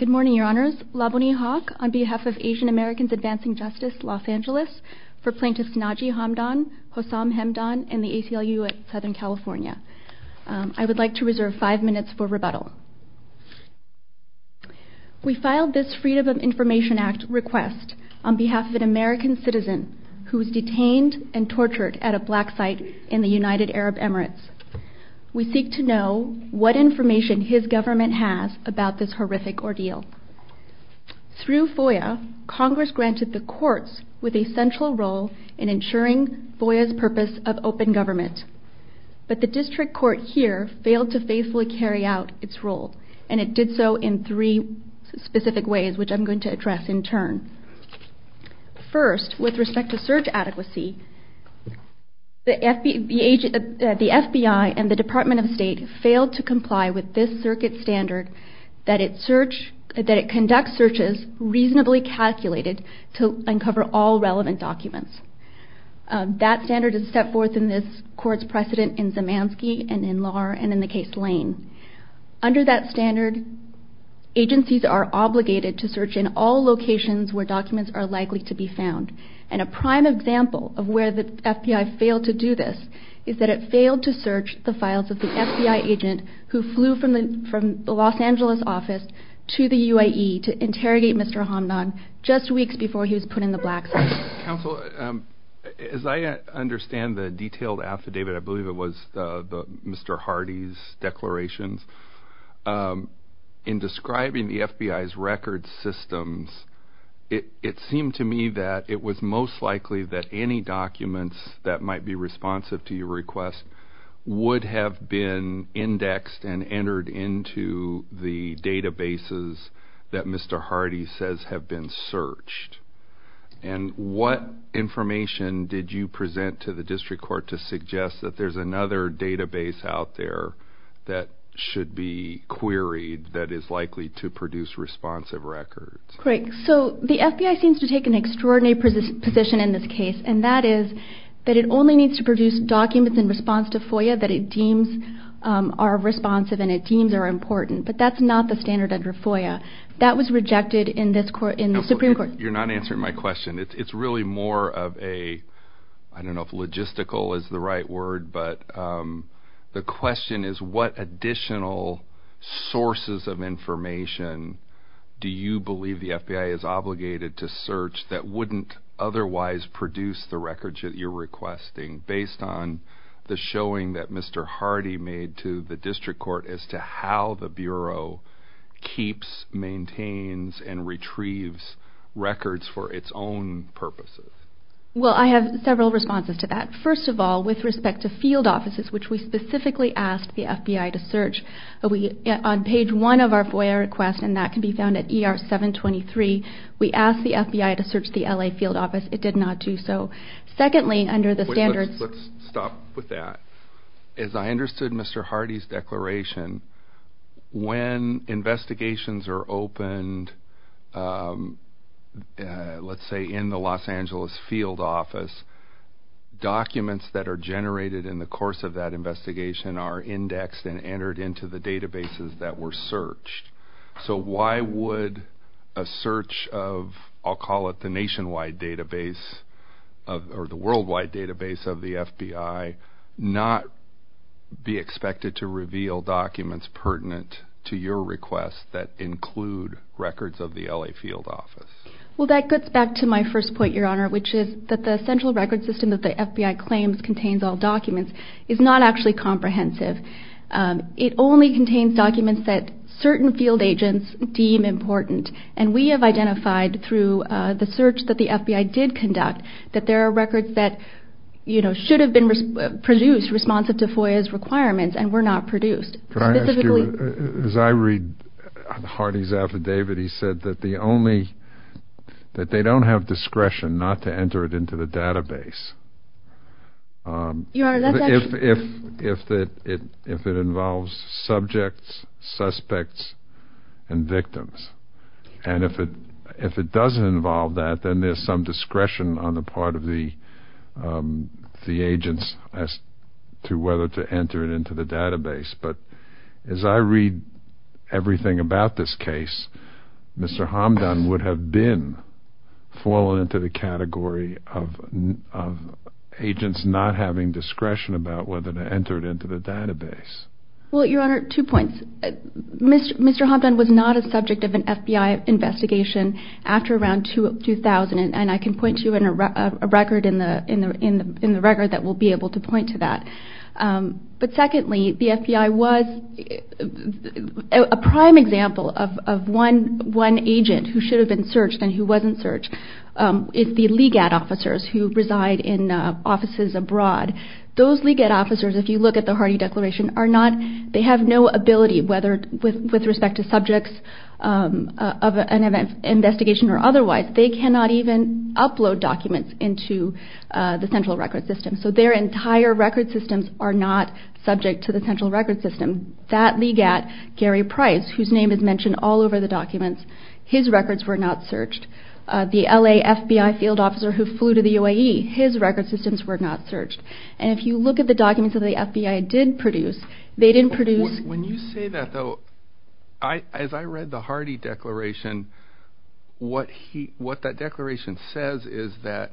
Good morning, Your Honors. Laboni Hawk on behalf of Asian Americans Advancing Justice, Los Angeles, for Plaintiffs Naji Hamdan, Hossam Hemdan, and the ACLU at Southern California. I would like to reserve five minutes for rebuttal. We filed this Freedom of Information Act request on behalf of an American citizen who was detained and tortured at a black site in the United Arab Emirates. We seek to know what information his government has about this horrific ordeal. Through FOIA, Congress granted the courts with a central role in ensuring FOIA's purpose of open government. But the district court here failed to faithfully carry out its role, and it did so in three specific ways, which I'm going to address in turn. First, with respect to search adequacy, the FBI and the Department of State failed to comply with this circuit standard that it conducts searches reasonably calculated to uncover all relevant documents. That standard is set forth in this court's precedent in Zemanski and in Lahr and in the case Lane. Under that standard, agencies are obligated to search in all locations where documents are likely to be found. And a prime example of where the FBI failed to do this is that it failed to search the files of the FBI agent who flew from the Los Angeles office to the UAE to interrogate Mr. Hamdan just weeks before he was put in the black site. Counsel, as I understand the detailed affidavit, I believe it was Mr. Hardy's declarations, in describing the FBI's record systems, it seemed to me that it was most likely that any documents that might be responsive to your request would have been indexed and entered into the databases that Mr. Hardy says have been searched. And what I'm trying to say is, what information did you present to the district court to suggest that there's another database out there that should be queried that is likely to produce responsive records? Great. So the FBI seems to take an extraordinary position in this case, and that is that it only needs to produce documents in response to FOIA that it deems are responsive and it deems are important. But that's not the standard under FOIA. That was rejected in the Supreme Court. You're not answering my question. It's really more of a, I don't know if logistical is the right word, but the question is what additional sources of information do you believe the FBI is obligated to search that wouldn't otherwise produce the records that you're requesting based on the showing that Mr. Hardy made to the district court as to how the Bureau keeps, maintains, and retrieves records for its own purposes? Well I have several responses to that. First of all, with respect to field offices, which we specifically asked the FBI to search, on page one of our FOIA request, and that can be found at ER 723, we asked the FBI to search the L.A. field office. It did not do so. Secondly, under the standards... Let's stop with that. As I understood Mr. Hardy's declaration, when investigations are opened, let's say in the Los Angeles field office, documents that are generated in the course of that investigation are indexed and entered into the databases that were searched. So why would a search of, I'll call it the nationwide database, or the worldwide database of the FBI, not be expected to reveal documents pertinent to your request that include the records of the L.A. field office? Well that gets back to my first point, Your Honor, which is that the central record system that the FBI claims contains all documents is not actually comprehensive. It only contains documents that certain field agents deem important, and we have identified through the search that the FBI did conduct that there are records that should have been produced responsive to FOIA's requirements and were not produced. Can I ask you, as I read Hardy's affidavit, he said that the only... that they don't have discretion not to enter it into the database... Your Honor, that's actually... If it involves subjects, suspects, and victims, and if it doesn't involve that, then there's some discretion on the part of the agents as to whether to enter it into the database, but as I read everything about this case, Mr. Hamdan would have been fallen into the category of agents not having discretion about whether to enter it into the database. Well, Your Honor, two points. Mr. Hamdan was not a subject of an FBI investigation after around 2000, and I can point to a record in the record that will be able to point to that. But secondly, the FBI was... a prime example of one agent who should have been searched and who wasn't searched is the LEGAD officers who reside in offices abroad. Those LEGAD officers, if you look at the Hardy Declaration, are not... they have no ability, whether with respect to subjects of an investigation or otherwise, they cannot even upload documents into the central record system. So their entire record systems are not subject to the central record system. That LEGAD, Gary Price, whose name is mentioned all over the documents, his records were not searched. The LA FBI field officer who flew to the UAE, his record systems were not searched. And if you look at the documents that the FBI did produce, they didn't produce... When you say that, though, as I read the Hardy Declaration, what that declaration says is that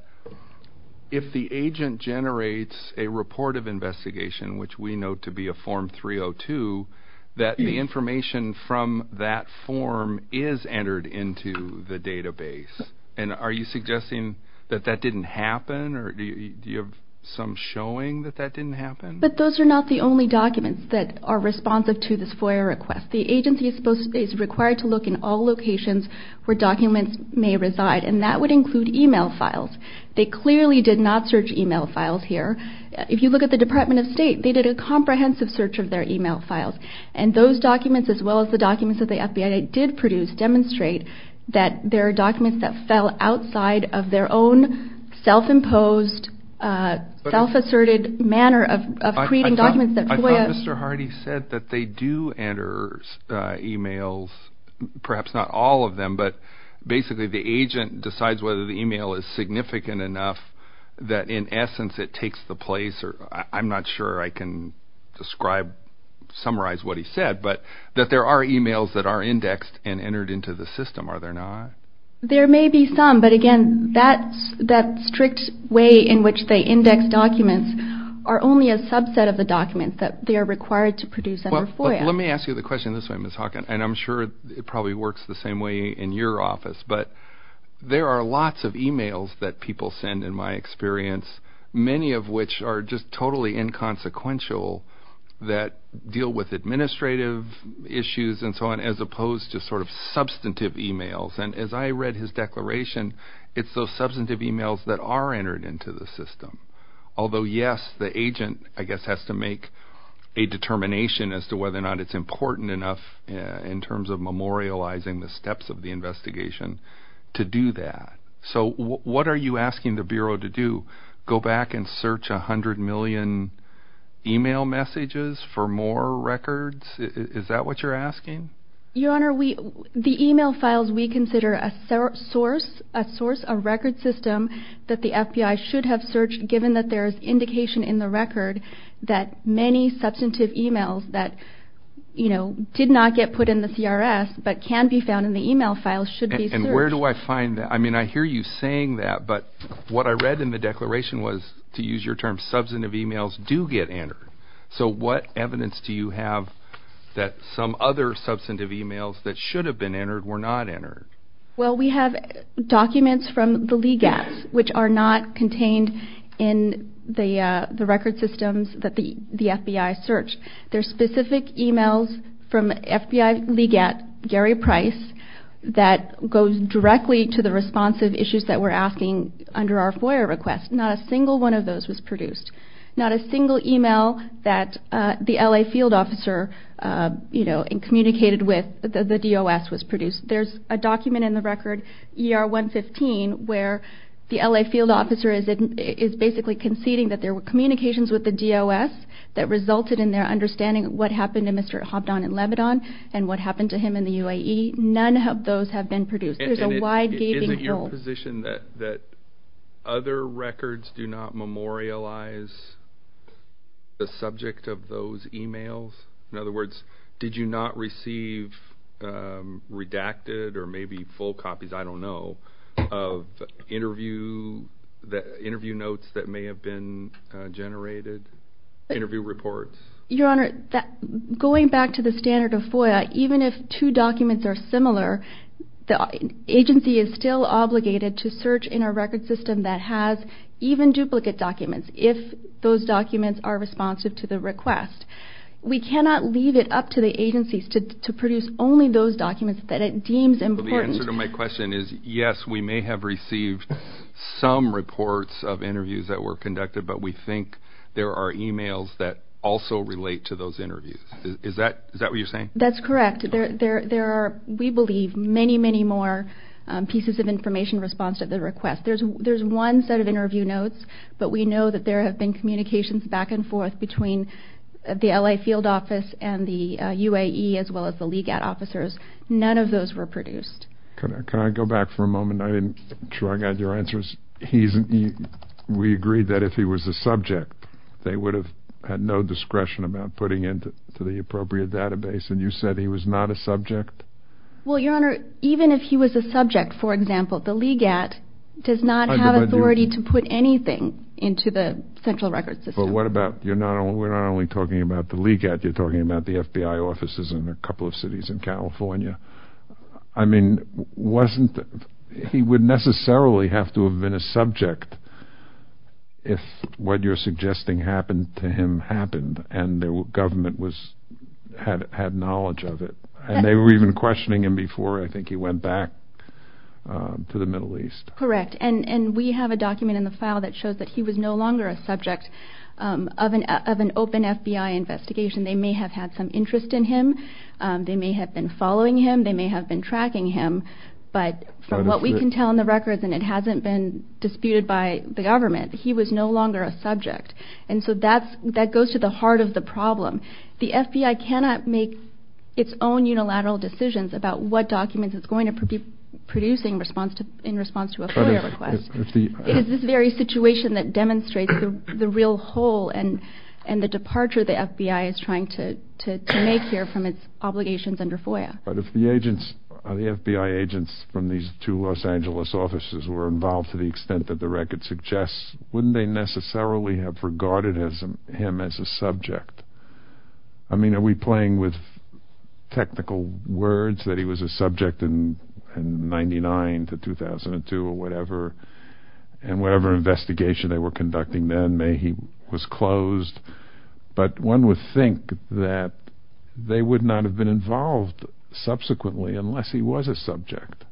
if the agent generates a report of investigation, which we know to be a Form 302, that the information from that form is entered into the database. And are you suggesting that that didn't happen, or do you have some showing that that didn't happen? But those are not the only documents that are responsive to this FOIA request. The agency is supposed to... is required to look in all locations where documents may reside, and that would include email files. They clearly did not search email files here. If you look at the Department of State, they did a comprehensive search of their email files. And those documents, as well as the documents that the FBI did produce, demonstrate that there are documents that fell outside of their own self-imposed, self-asserted manner of creating documents that FOIA... I thought Mr. Hardy said that they do enter emails, perhaps not all of them, but basically the agent decides whether the email is significant enough that, in essence, it takes the place or... I'm not sure I can describe, summarize what he said, but that there are emails that are indexed and entered into the system, are there not? There may be some, but again, that strict way in which they index documents are only a subset of the documents that they are required to produce under FOIA. Let me ask you the question this way, Ms. Hawkin, and I'm sure it probably works the same way. There are lots of emails that people send, in my experience, many of which are just totally inconsequential that deal with administrative issues and so on, as opposed to sort of substantive emails. And as I read his declaration, it's those substantive emails that are entered into the system. Although, yes, the agent, I guess, has to make a determination as to whether or not it's important enough in terms of memorializing the steps of the investigation to do that. So what are you asking the Bureau to do? Go back and search a hundred million email messages for more records? Is that what you're asking? Your Honor, the email files we consider a source, a record system that the FBI should have searched, given that there is indication in the record that many substantive emails that, you know, did not get put in the CRS but can be found in the email files should be searched. And where do I find that? I mean, I hear you saying that, but what I read in the declaration was, to use your term, substantive emails do get entered. So what evidence do you have that some other substantive emails that should have been entered were not entered? Well, we have documents from the LEGAS, which are not contained in the record systems that the FBI searched. There's specific emails from FBI LEGAS, Gary Price, that goes directly to the responsive issues that we're asking under our FOIA request. Not a single one of those was produced. Not a single email that the LA field officer, you know, communicated with the DOS was produced. There's a document in the record, ER 115, where the LA field officer is basically conceding that there were communications with the DOS that resulted in their understanding of what happened to Mr. Hobdon in Lebanon and what happened to him in the UAE. None of those have been produced. There's a wide gaping hole. Is it your position that other records do not memorialize the subject of those emails? In other words, did you not receive redacted or maybe full copies, I don't know, of interview notes that may have been generated, interview reports? Your Honor, going back to the standard of FOIA, even if two documents are similar, the agency is still obligated to search in a record system that has even duplicate documents if those documents are responsive to the request. We cannot leave it up to the agencies to produce only those documents that it deems important. So the answer to my question is, yes, we may have received some reports of interviews that were conducted, but we think there are emails that also relate to those interviews. Is that what you're saying? That's correct. There are, we believe, many, many more pieces of information responsive to the request. There's one set of interview notes, but we know that there have been communications back and forth between the LA field office and the UAE, as well as the LEGAD officers. None of those were produced. Can I go back for a moment? I'm not sure I got your answer. We agreed that if he was a subject, they would have had no discretion about putting it into the appropriate database, and you said he was not a subject? Well, Your Honor, even if he was a subject, for example, the LEGAD does not have authority to put anything into the central record system. But what about, we're not only talking about the LEGAD, you're talking about the FBI offices in a couple of cities in California. I mean, wasn't, he would necessarily have to have been a subject if what you're suggesting happened to him happened, and the government was, had knowledge of it. And they were even questioning him before, I think, he went back to the Middle East. Correct. And we have a document in the file that shows that he was no longer a subject of an open FBI investigation. They may have had some interest in him. They may have been following him. They may have been tracking him. But from what we can tell in the records, and it hasn't been disputed by the government, he was no longer a subject. And so that goes to the heart of the problem. The FBI cannot make its own unilateral decisions about what documents it's going to be producing in response to a FOIA request. It is this very situation that demonstrates the real hole and the departure the FBI is trying to make here from its obligations under FOIA. But if the agents, the FBI agents from these two Los Angeles offices were involved to the extent that the record suggests, wouldn't they necessarily have regarded him as a subject? I mean, are we playing with technical words that he was a subject in 99 to 2002 or whatever? And whatever investigation they were conducting then, may he was closed. But one would think that they would not have been involved subsequently unless he was a subject.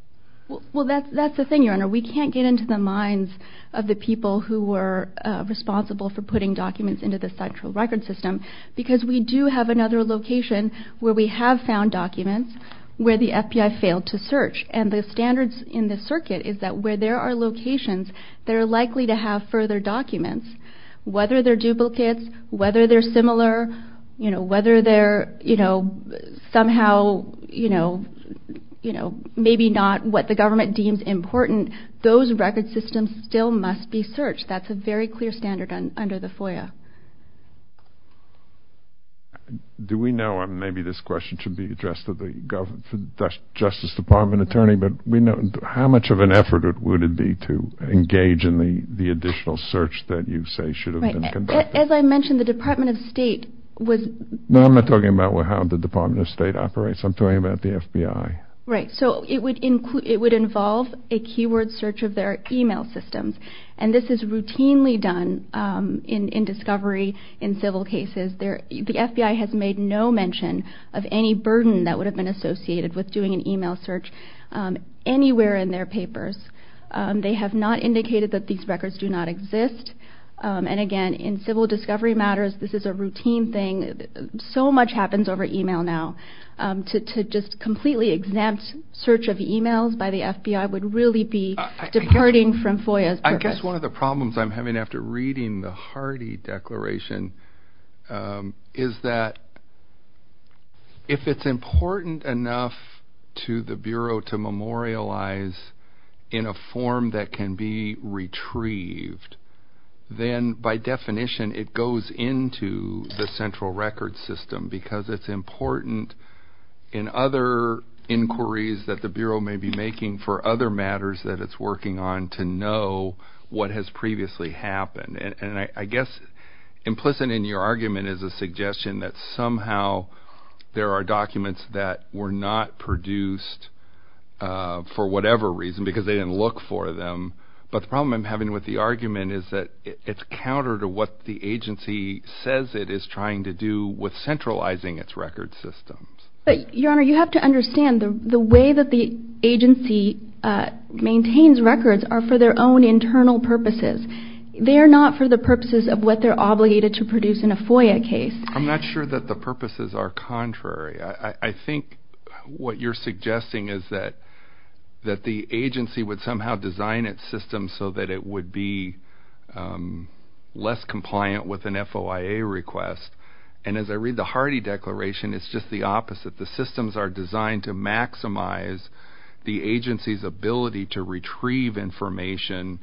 Well, that's the thing, Your Honor. We can't get into the minds of the people who were responsible for putting documents into the central record system because we do have another location where we have found documents where the FBI failed to search. And the standards in the circuit is that where there are locations that are likely to have further documents, whether they're duplicates, whether they're similar, whether they're somehow maybe not what the government deems important, those record systems still must be searched. That's a very clear standard under the FOIA. Do we know, and maybe this question should be addressed to the Justice Department attorney, but how much of an effort would it be to engage in the additional search that you say should have been conducted? Right. As I mentioned, the Department of State was... No, I'm not talking about how the Department of State operates. I'm talking about the FBI. Right. So it would involve a keyword search of their email systems. And this is routinely done in discovery in civil cases. The FBI has made no mention of any burden that would come anywhere in their papers. They have not indicated that these records do not exist. And again, in civil discovery matters, this is a routine thing. So much happens over email now. To just completely exempt search of emails by the FBI would really be departing from FOIA's purpose. I guess one of the problems I'm having after reading the Hardy Declaration is that if it's important enough to the Bureau to memorialize in a form that can be retrieved, then by definition it goes into the central record system because it's important in other inquiries that the Bureau may be making for other matters that it's working on to know what has previously happened. And I guess implicit in your argument is a suggestion that somehow there are documents that were not produced for whatever reason because they didn't look for them. But the problem I'm having with the argument is that it's counter to what the agency says it is trying to do with centralizing its record systems. But, Your Honor, you have to understand the way that the agency maintains records are for their own internal purposes. They are not for the purposes of what they're obligated to produce in a FOIA case. I'm not sure that the purposes are contrary. I think what you're suggesting is that the agency would somehow design its systems so that it would be less compliant with an FOIA request. And as I read the Hardy Declaration, it's just the opposite. The systems are designed to maximize the agency's ability to retrieve information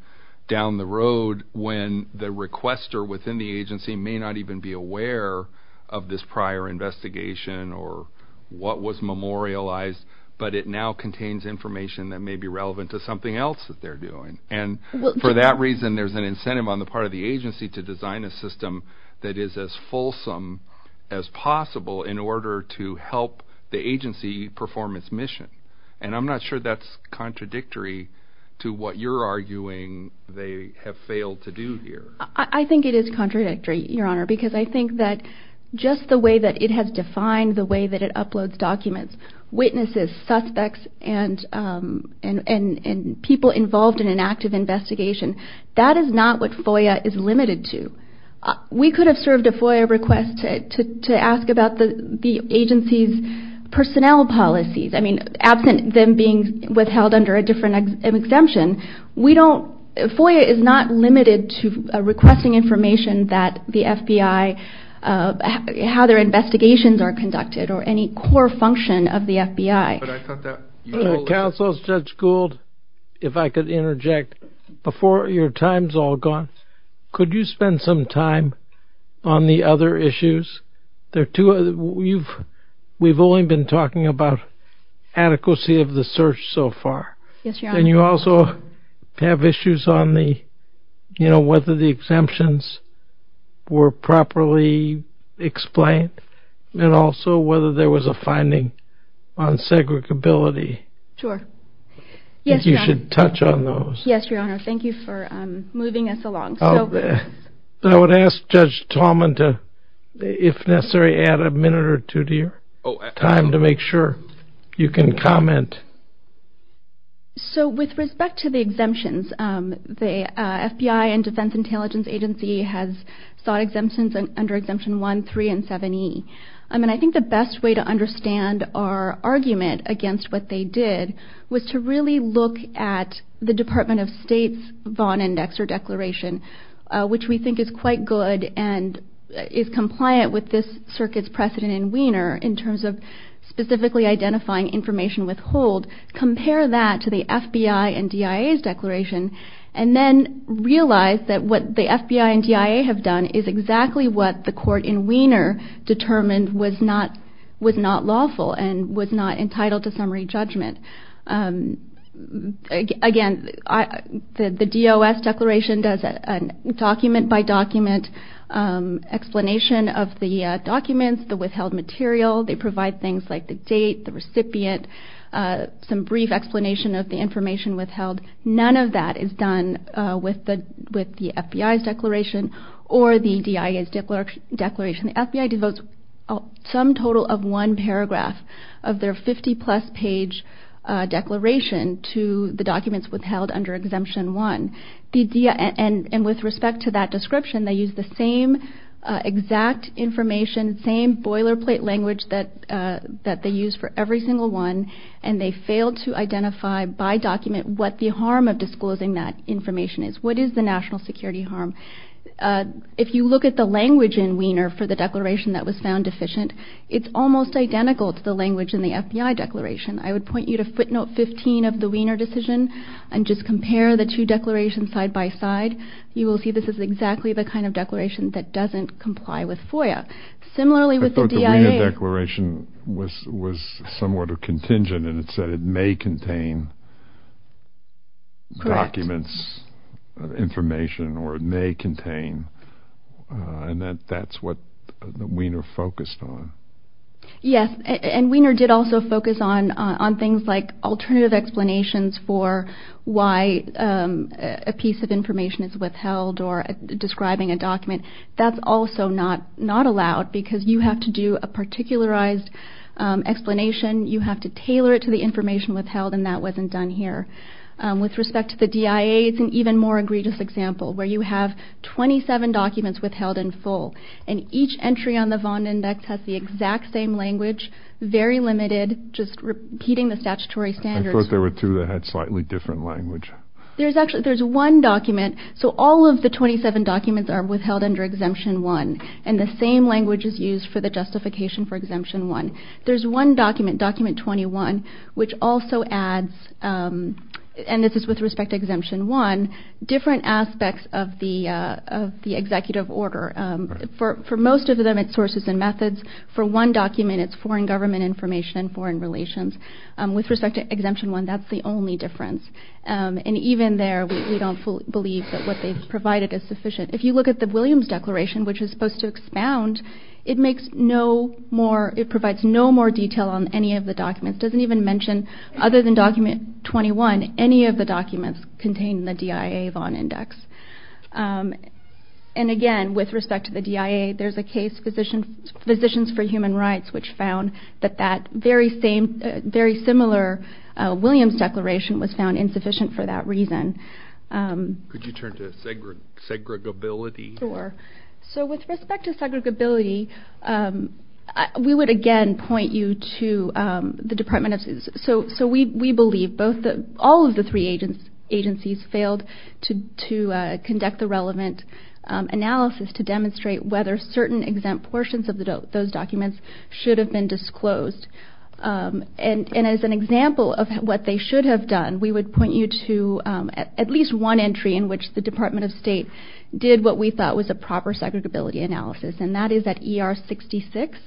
down the road when the requester within the agency may not even be aware of this prior investigation or what was memorialized, but it now contains information that may be relevant to something else that they're doing. And for that reason, there's an incentive on the part of the agency to design a system that is as fulsome as possible in order to help the agency perform its mission. And I'm not sure that's contradictory to what you're arguing they have failed to do here. I think it is contradictory, Your Honor, because I think that just the way that it has defined the way that it uploads documents, witnesses, suspects, and people involved in an active investigation, that is not what FOIA is limited to. We could have served a FOIA request to ask about the agency's personnel policies. I mean, absent them being withheld under a different exemption, we don't, FOIA is not limited to requesting information that the FBI, how their investigations are conducted or any core function of the FBI. Counsel Judge Gould, if I could interject, before your time's all gone, could you spend some time on the other issues? There are two, we've only been talking about adequacy of the search so far. And you also have issues on the, you know, whether the exemptions were properly explained and also whether there was a finding on segregability. You should touch on those. Yes, Your Honor, thank you for moving us along. I would ask Judge Tallman to, if necessary, add a minute or two to your time to make sure you can comment. So with respect to the exemptions, the FBI and Defense Intelligence Agency has sought exemptions under Exemption 1, 3, and 7e. I mean, I think the best way to understand our argument against what they did was to really look at the Department of State's Vaughn Index or declaration, which we think is quite good and is compliant with this circuit's precedent in Wiener in terms of specifically identifying information with hold, compare that to the FBI and DIA's declaration, and then realize that what the FBI and DIA have done is exactly what the court in Wiener determined was not lawful and was not entitled to summary information. The FBI's declaration does a document-by-document explanation of the documents, the withheld material. They provide things like the date, the recipient, some brief explanation of the information withheld. None of that is done with the FBI's declaration or the DIA's declaration. The FBI devotes some total of one paragraph of their 50-plus page declaration to the documents withheld under Exemption 1. And with respect to that description, they use the same exact information, same boilerplate language that they use for every single one, and they fail to identify by document what the harm of disclosing that information is. What is the national security harm? If you look at the language in Wiener for the declaration that was found deficient, it's almost identical to the language in the FBI declaration. I would point you to footnote 15 of the Wiener decision and just compare the two declarations side-by-side. You will see this is exactly the kind of declaration that doesn't comply with FOIA. Similarly, with the DIA... I thought the Wiener declaration was somewhat contingent and it said it may contain documents, information, or it may contain, and that that's what Wiener focused on. Yes, and Wiener did also focus on things like alternative explanations for why a piece of information is withheld or describing a document. That's also not allowed because you have to do a particularized explanation. You have to tailor it to the information withheld and that wasn't done here. With respect to the DIA, it's an even more egregious example where you have 27 documents withheld in full and each entry on the Vaughn Index has the exact same language, very limited, just repeating the statutory standards. I thought there were two that had slightly different language. There's actually, there's one document, so all of the 27 documents are withheld under Exemption 1 and the same language is used for the justification for Exemption 1. There's one document, Document 21, which also adds, and this is with respect to Exemption 1, different aspects of the executive order. For most of them, it's sources and methods. For one document, it's foreign government information, foreign relations. With respect to Exemption 1, that's the only difference. And even there, we don't believe that what they've provided is sufficient. If you look at the Williams Declaration, which is supposed to expound, it makes no more, it provides no more detail on any of the documents. It doesn't even mention, other than Document 21, any of the documents contained in the DIA Vaughn Index. And again, with respect to the DIA, there's a case, Physicians for Human Rights, which found that that very same, very similar Williams Declaration was found insufficient for that reason. Could you turn to segregability? Sure. So with respect to segregability, we would again point you to the Department of State. So we believe all of the three agencies failed to conduct the relevant analysis to demonstrate whether certain exempt portions of those documents should have been disclosed. And as an example of what they should have done, we would point you to at least one entry in which the Department of State did what we thought was a proper segregability analysis. And that is at ER 66.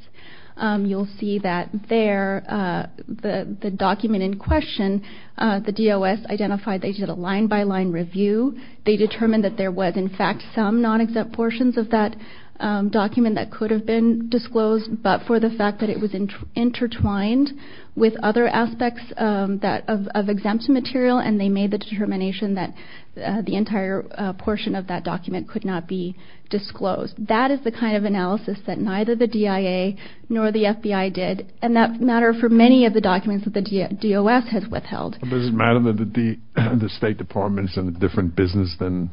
You'll see that there, the document in question, the DOS identified they did a line-by-line review. They determined that there was, in fact, some non-exempt portions of that document that could have been disclosed, but for the fact that it was intertwined with other aspects of exempt material, and they made the determination that the entire portion of that document could not be disclosed. That is the kind of analysis that neither the DIA nor the FBI did, and that matter for many of the documents that the DOS has withheld. Does it matter that the State Department's in a different business than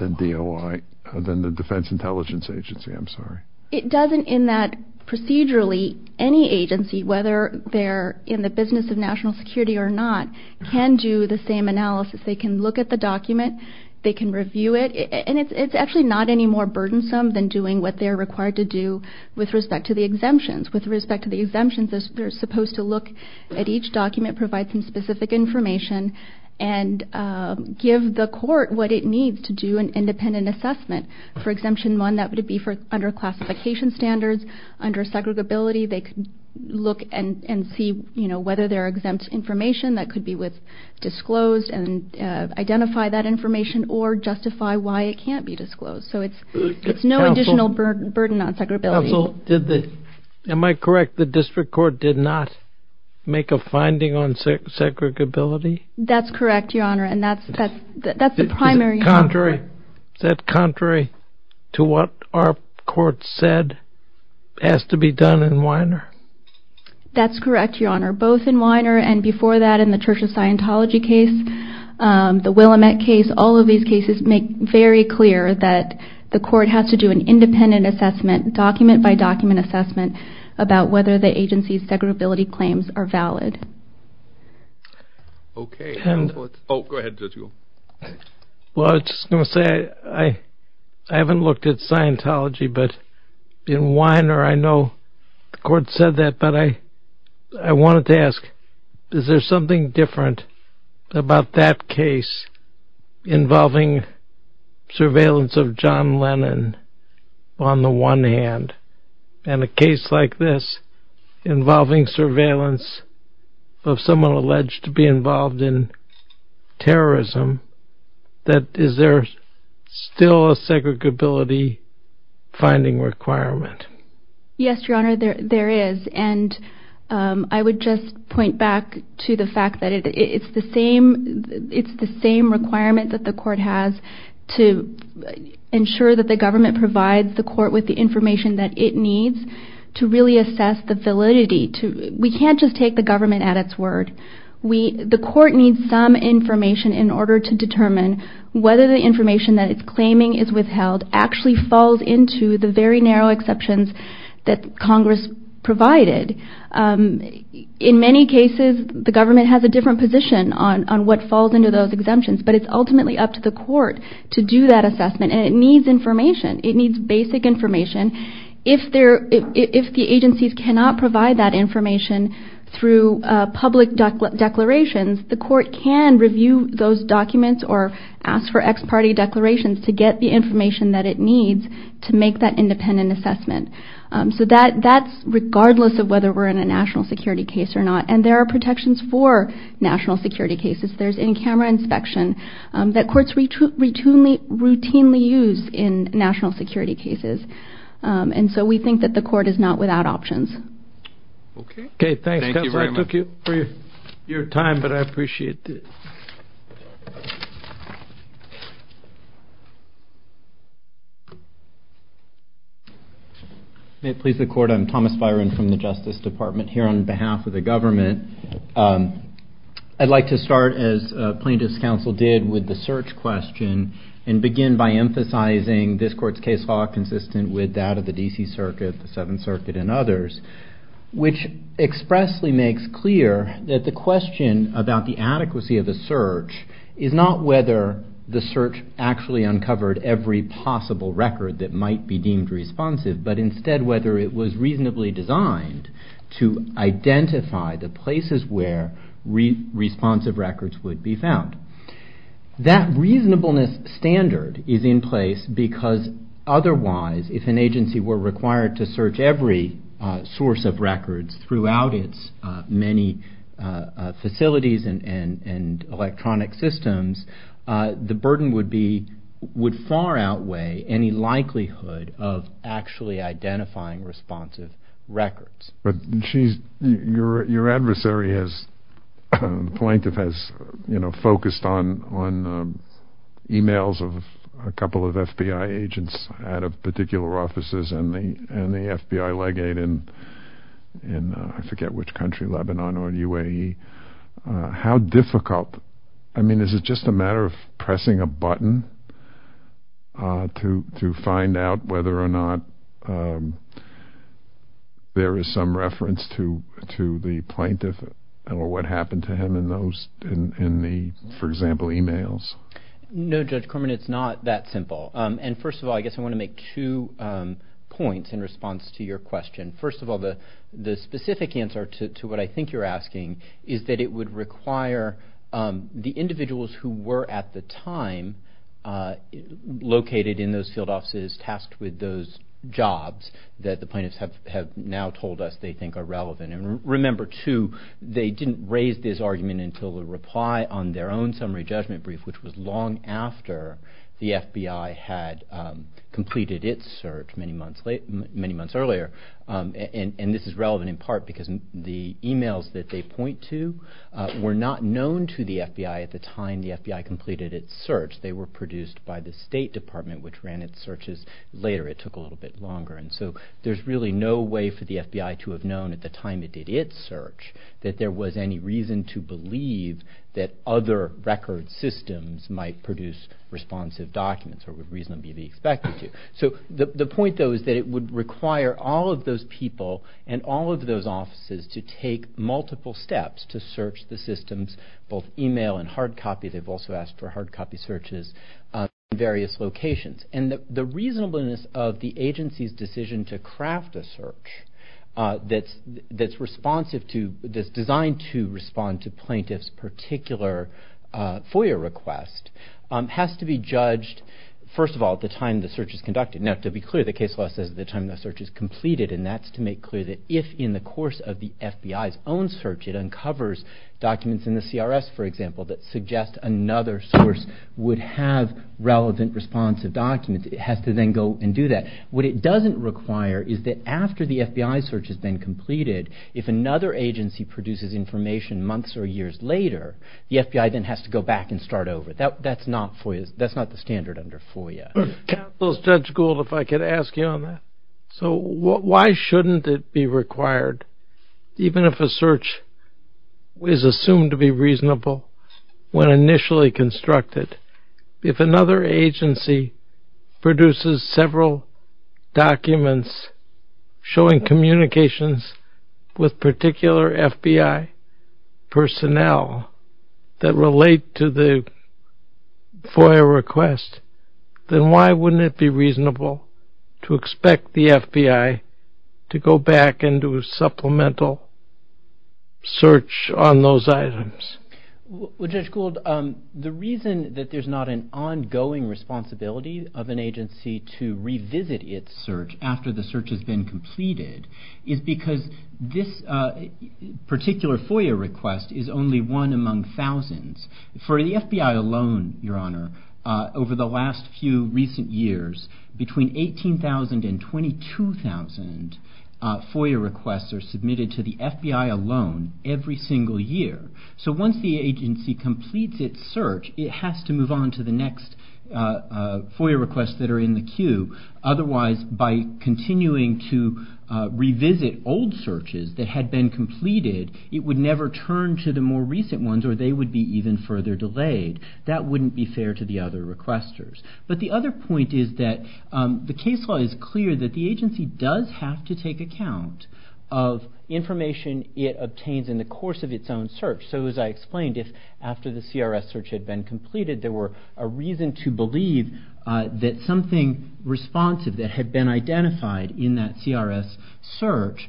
the DOI, than the Defense Intelligence Agency? I'm sorry. It doesn't, in that procedurally, any agency, whether they're in the business of national security or not, can do the same analysis. They can look at the document, they can review it, and it's actually not any more burdensome than doing what they're required to do with respect to the exemptions. With respect to the exemptions, they're supposed to look at each document, provide some specific information, and give the court what it needs to do an independent assessment. For Exemption 1, that would be for under classification standards, under segregability, they could look and see, you know, whether there are exempt information that could be disclosed, and identify that information, or justify why it can't be disclosed. So it's no additional burden on segregability. Counsel, did the, am I correct, the District Court did not make a finding on segregability? That's correct, Your Honor, and that's the primary... Is that contrary to what our court said has to be done in Weiner? That's correct, Your Honor. Both in Weiner and before that in the Church of Scientology case, the Willamette case, all of these cases make very clear that the court has to do an independent assessment, document by document assessment, about whether the agency's segregability claims are valid. Okay. Oh, go ahead, Judge Ruhl. Well, I was just going to say, I haven't looked at Scientology, but in Weiner I know the court said that, but I wanted to ask, is there something different about that case involving surveillance of John Lennon on the one hand, and a case like this involving surveillance of someone alleged to be involved in terrorism, that is there still a segregability finding requirement? Yes, Your Honor, there is, and I would just point back to the fact that it's the same requirement that the court has to ensure that the government provides the court with the information that it needs to really assess the validity. We can't just take the government at its word. The court needs some information in order to determine whether the information that it's claiming is withheld actually falls into the very narrow exceptions that Congress provided. In many cases, the government has a different position on what falls into those exemptions, but it's ultimately up to the court to do that assessment, and it needs information. It needs basic information. If the agencies cannot provide that information through public declarations, the court can review those documents or ask for ex-party declarations to get the information that it needs to make that independent assessment. So that's regardless of whether we're in a national security case or not, and there are inspections that courts routinely use in national security cases, and so we think that the court is not without options. Okay, thanks, counselor. I took your time, but I appreciate it. May it please the court, I'm Thomas Byron from the Justice Department here on behalf of the government. I'd like to start, as plaintiff's counsel did, with the search question and begin by emphasizing this court's case law consistent with that of the D.C. Circuit, the Seventh Circuit, and others, which expressly makes clear that the question about the adequacy of the search is not whether the search actually uncovered every possible record that might be deemed responsive, but instead whether it was reasonably designed to identify the places where responsive records would be found. That reasonableness standard is in place because otherwise, if an agency were required to search every source of records throughout its many facilities and electronic systems, the burden would far outweigh any likelihood of actually identifying responsive records. Your adversary, plaintiff, has focused on e-mails of a couple of FBI agents out of particular offices and the FBI legate in, I forget which country, Lebanon or the UAE. How difficult, I mean, is it just a matter of pressing a button to find out whether or not there is some reference to the plaintiff or what happened to him in those, for example, e-mails? No, Judge Corman, it's not that simple. And first of all, I guess I want to make two points in response to your question. First of all, the specific answer to what I think you're asking is that it would require the individuals who were at the time located in those field offices tasked with those jobs that the plaintiffs have now told us they think are relevant. And remember, too, they didn't raise this argument until the reply on their own summary judgment brief, which was long after the FBI had completed its search many months earlier. And this is relevant in part because the e-mails that they point to were not known to the FBI at the time the FBI completed its search. They were produced by the State Department, which ran its searches later. It took a little bit longer. And so there's really no way for the FBI to have known at the time it did its search that there was any reason to believe that other record systems might produce responsive documents or would reasonably be expected to. So the point, though, is that it would require all of those people and all of those offices to take multiple steps to search the systems, both e-mail and hard copy. They've also asked for hard copy searches in various locations. And the reasonableness of the agency's decision to craft a search that's responsive to, that's designed to respond to plaintiffs' particular FOIA request has to be judged, first of all, at the time the search is conducted. Now, to be clear, the case law says at the time the search is completed, and that's to make clear that if in the course of the FBI's own search it uncovers documents in the CRS, for example, that suggest another source would have relevant responsive documents, it has to then go and do that. What it doesn't require is that after the FBI search has been completed, if another agency produces information months or years later, the FBI then has to go back and start over. That's not FOIA. That's not the standard under FOIA. Capitalist Judge Gould, if I could ask you on that. So why shouldn't it be required, even if a search is assumed to be reasonable when initially constructed, if another agency produces several documents showing communications with particular FBI personnel that relate to the FOIA request, then why wouldn't it be reasonable to expect the FBI to go back and do a supplemental search on those items? Well, Judge Gould, the reason that there's not an ongoing responsibility of an agency to revisit its search after the search has been completed is because this particular FOIA request is only one among thousands. For the FBI alone, Your Honor, over the last few recent years, between 18,000 and 22,000 FOIA requests are submitted to the FBI alone every single year. So once the agency completes its search, it has to move on to the next FOIA requests that are in the queue. Otherwise, by continuing to revisit old searches that had been completed, it would never turn to the more recent ones or they would be even further delayed. That wouldn't be fair to the other requesters. But the other point is that the case law is clear that the agency does have to take account of information it obtains in the course of its own search. So as I explained, if after the CRS search had been completed there were a reason to believe that something responsive that had been identified in that CRS search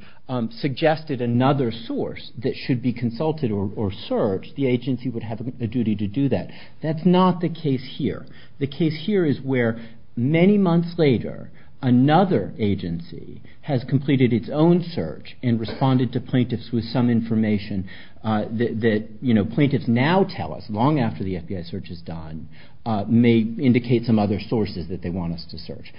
suggested another source that should be consulted or searched, the agency would have a duty to do that. That's not the case here. The case here is where many months later, another agency has completed its own search and responded to plaintiffs with some information that plaintiffs now tell us, long after the FBI search is done, may indicate some other sources that they want us to search.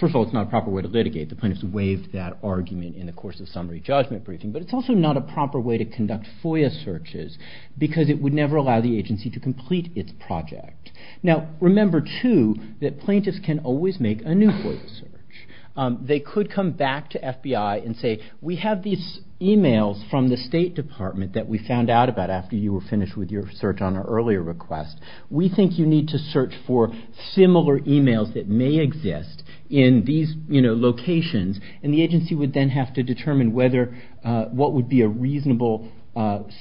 First of all, it's not a proper way to litigate. The plaintiffs waived that argument in the course of summary judgment briefing. But it's also not a proper way to conduct FOIA searches because it would never allow the agency to complete its project. Now remember, too, that plaintiffs can always make a new FOIA search. They could come back to FBI and say, we have these emails from the State Department that we found out about after you were finished with your search on our earlier request. We think you need to search for similar emails that may exist in these locations. And the agency would then have to determine what would be a reasonable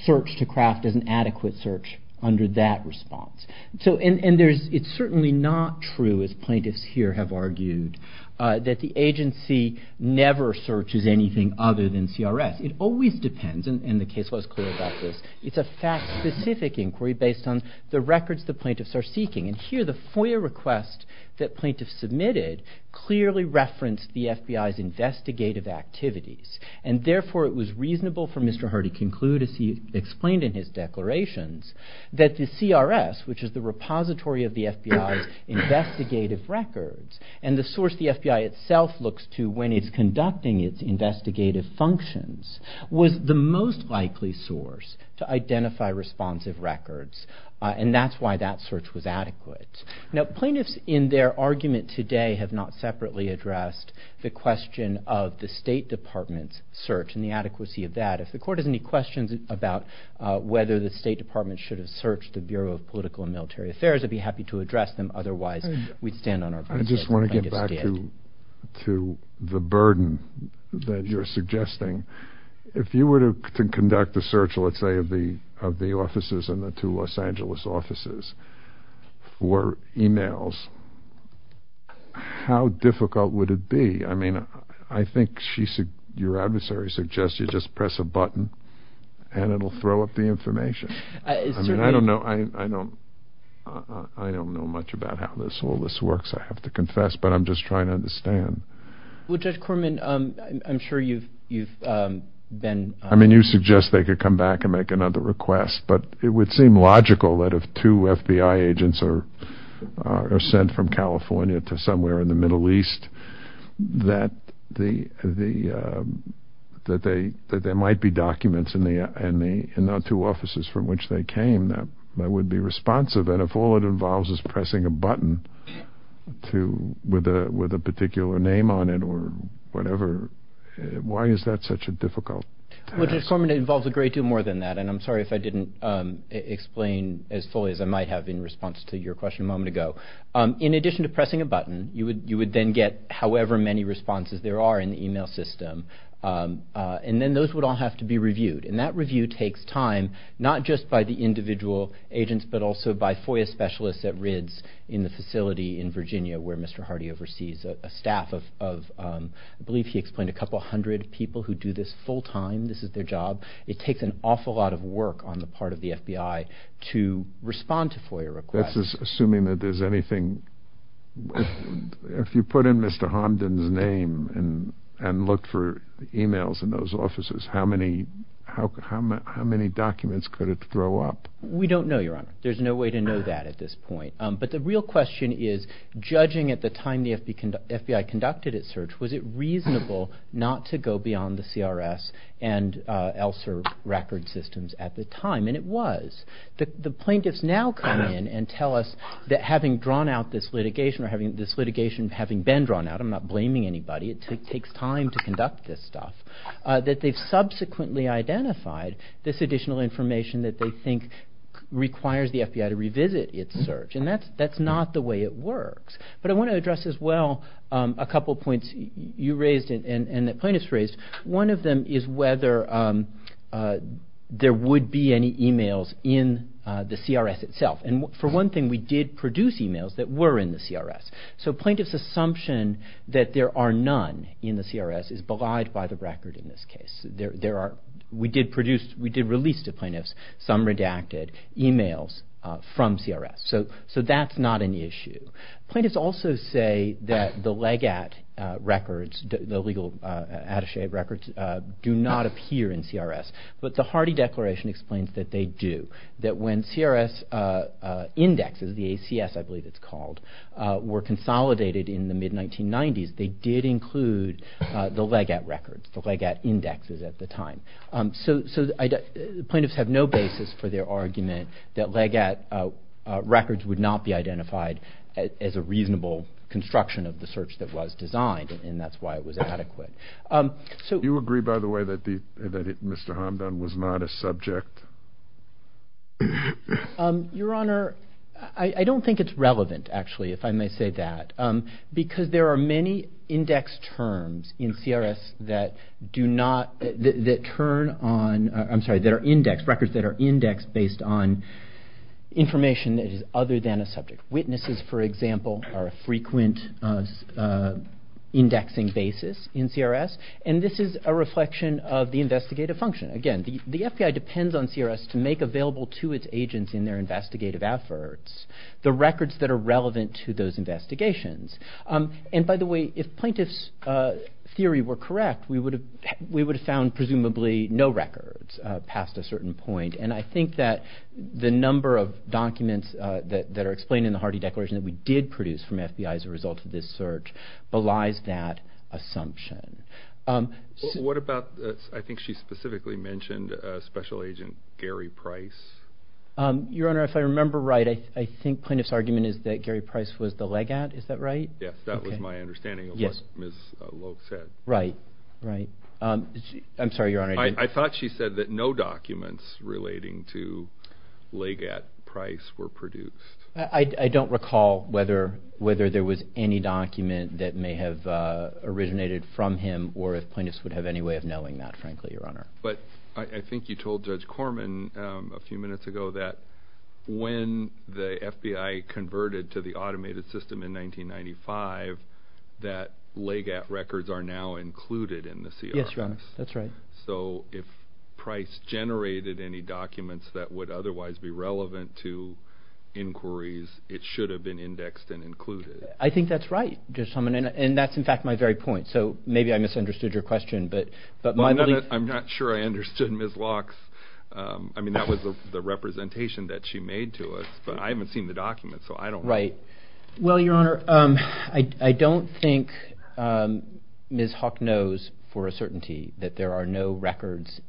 search to craft as an adequate search under that response. And it's certainly not true, as plaintiffs here have argued, that the agency never searches anything other than CRS. It always depends, and the case was clear about this. It's a fact-specific inquiry based on the records the plaintiffs are seeking. And here the FOIA request that plaintiffs submitted clearly referenced the FBI's investigative activities. And therefore it was reasonable for Mr. Hardy-Kinclue, as he explained in his declarations, that the CRS, which is the repository of the FBI's investigative records, and the source the FBI itself looks to when it's conducting its investigative functions, was the most likely source to identify responsive records. And that's why that search was adequate. Now, plaintiffs in their argument today have not separately addressed the question of the State Department's search and the adequacy of that. If the Court has any questions about whether the State Department should have searched the Bureau of Political and Military Affairs, I'd be happy to address them. Otherwise, we'd stand on our backs. I just want to get back to the burden that you're suggesting. If you were to conduct a search, let's say, of the offices and the two Los Angeles offices for emails, how difficult would it be? I mean, I think your adversary suggests you just press a button and it'll throw up the information. I don't know much about how all this works, I have to confess, but I'm just trying to understand. Well, Judge Corman, I'm sure you've been… I mean, you suggest they could come back and make another request, but it would seem logical that if two FBI agents are sent from California to somewhere in the Middle East, that there might be documents in the two offices from which they came that would be responsive. And if all it involves is pressing a button with a particular name on it or whatever, why is that such a difficult task? Well, Judge Corman, it involves a great deal more than that, and I'm sorry if I didn't explain as fully as I might have in response to your question a moment ago. In addition to pressing a button, you would then get however many responses there are in the email system, and then those would all have to be reviewed. And that review takes time, not just by the individual agents but also by FOIA specialists at RIDS in the facility in Virginia where Mr. Hardy oversees a staff of, I believe he explained, a couple hundred people who do this full-time. This is their job. It takes an awful lot of work on the part of the FBI to respond to FOIA requests. That's assuming that there's anything… If you put in Mr. Hamdan's name and looked for emails in those offices, how many documents could it throw up? We don't know, Your Honor. There's no way to know that at this point. But the real question is, judging at the time the FBI conducted its search, was it reasonable not to go beyond the CRS and ELSR record systems at the time? And it was. The plaintiffs now come in and tell us that having drawn out this litigation or this litigation having been drawn out, I'm not blaming anybody, it takes time to conduct this stuff, that they've subsequently identified this additional information that they think requires the FBI to revisit its search. And that's not the way it works. But I want to address as well a couple of points you raised and that plaintiffs raised. One of them is whether there would be any emails in the CRS itself. And for one thing, we did produce emails that were in the CRS. So plaintiffs' assumption that there are none in the CRS is belied by the record in this case. We did release to plaintiffs some redacted emails from CRS. So that's not an issue. Plaintiffs also say that the LEGAT records, the Legal Attaché records, do not appear in CRS. But the Hardy Declaration explains that they do, that when CRS indexes, the ACS I believe it's called, were consolidated in the mid-1990s, they did include the LEGAT records, the LEGAT indexes at the time. So plaintiffs have no basis for their argument that LEGAT records would not be identified as a reasonable construction of the search that was designed, and that's why it was adequate. Do you agree, by the way, that Mr. Hamdan was not a subject? Your Honor, I don't think it's relevant, actually, if I may say that, because there are many index terms in CRS that turn on, I'm sorry, that are indexed, records that are indexed based on information that is other than a subject. Witnesses, for example, are a frequent indexing basis in CRS, and this is a reflection of the investigative function. Again, the FBI depends on CRS to make available to its agents in their investigative efforts the records that are relevant to those investigations. And by the way, if plaintiffs' theory were correct, we would have found presumably no records past a certain point, and I think that the number of documents that are explained in the Hardy Declaration that we did produce from FBI as a result of this search belies that assumption. What about, I think she specifically mentioned, Special Agent Gary Price? Your Honor, if I remember right, I think plaintiff's argument is that Gary Price was the Legat, is that right? Yes, that was my understanding of what Ms. Logue said. Right, right. I'm sorry, Your Honor. I thought she said that no documents relating to Legat Price were produced. I don't recall whether there was any document that may have originated from him, or if plaintiffs would have any way of knowing that, frankly, Your Honor. But I think you told Judge Korman a few minutes ago that when the FBI converted to the automated system in 1995, that Legat records are now included in the CRS. Yes, Your Honor, that's right. So if Price generated any documents that would otherwise be relevant to inquiries, it should have been indexed and included. I think that's right, Judge Korman, and that's in fact my very point, so maybe I misunderstood your question, but my belief... I'm not sure I understood Ms. Logue's... I mean, that was the representation that she made to us, but I haven't seen the document, so I don't... Right. Well, Your Honor, I don't think Ms. Hawk knows for a certainty that there are no records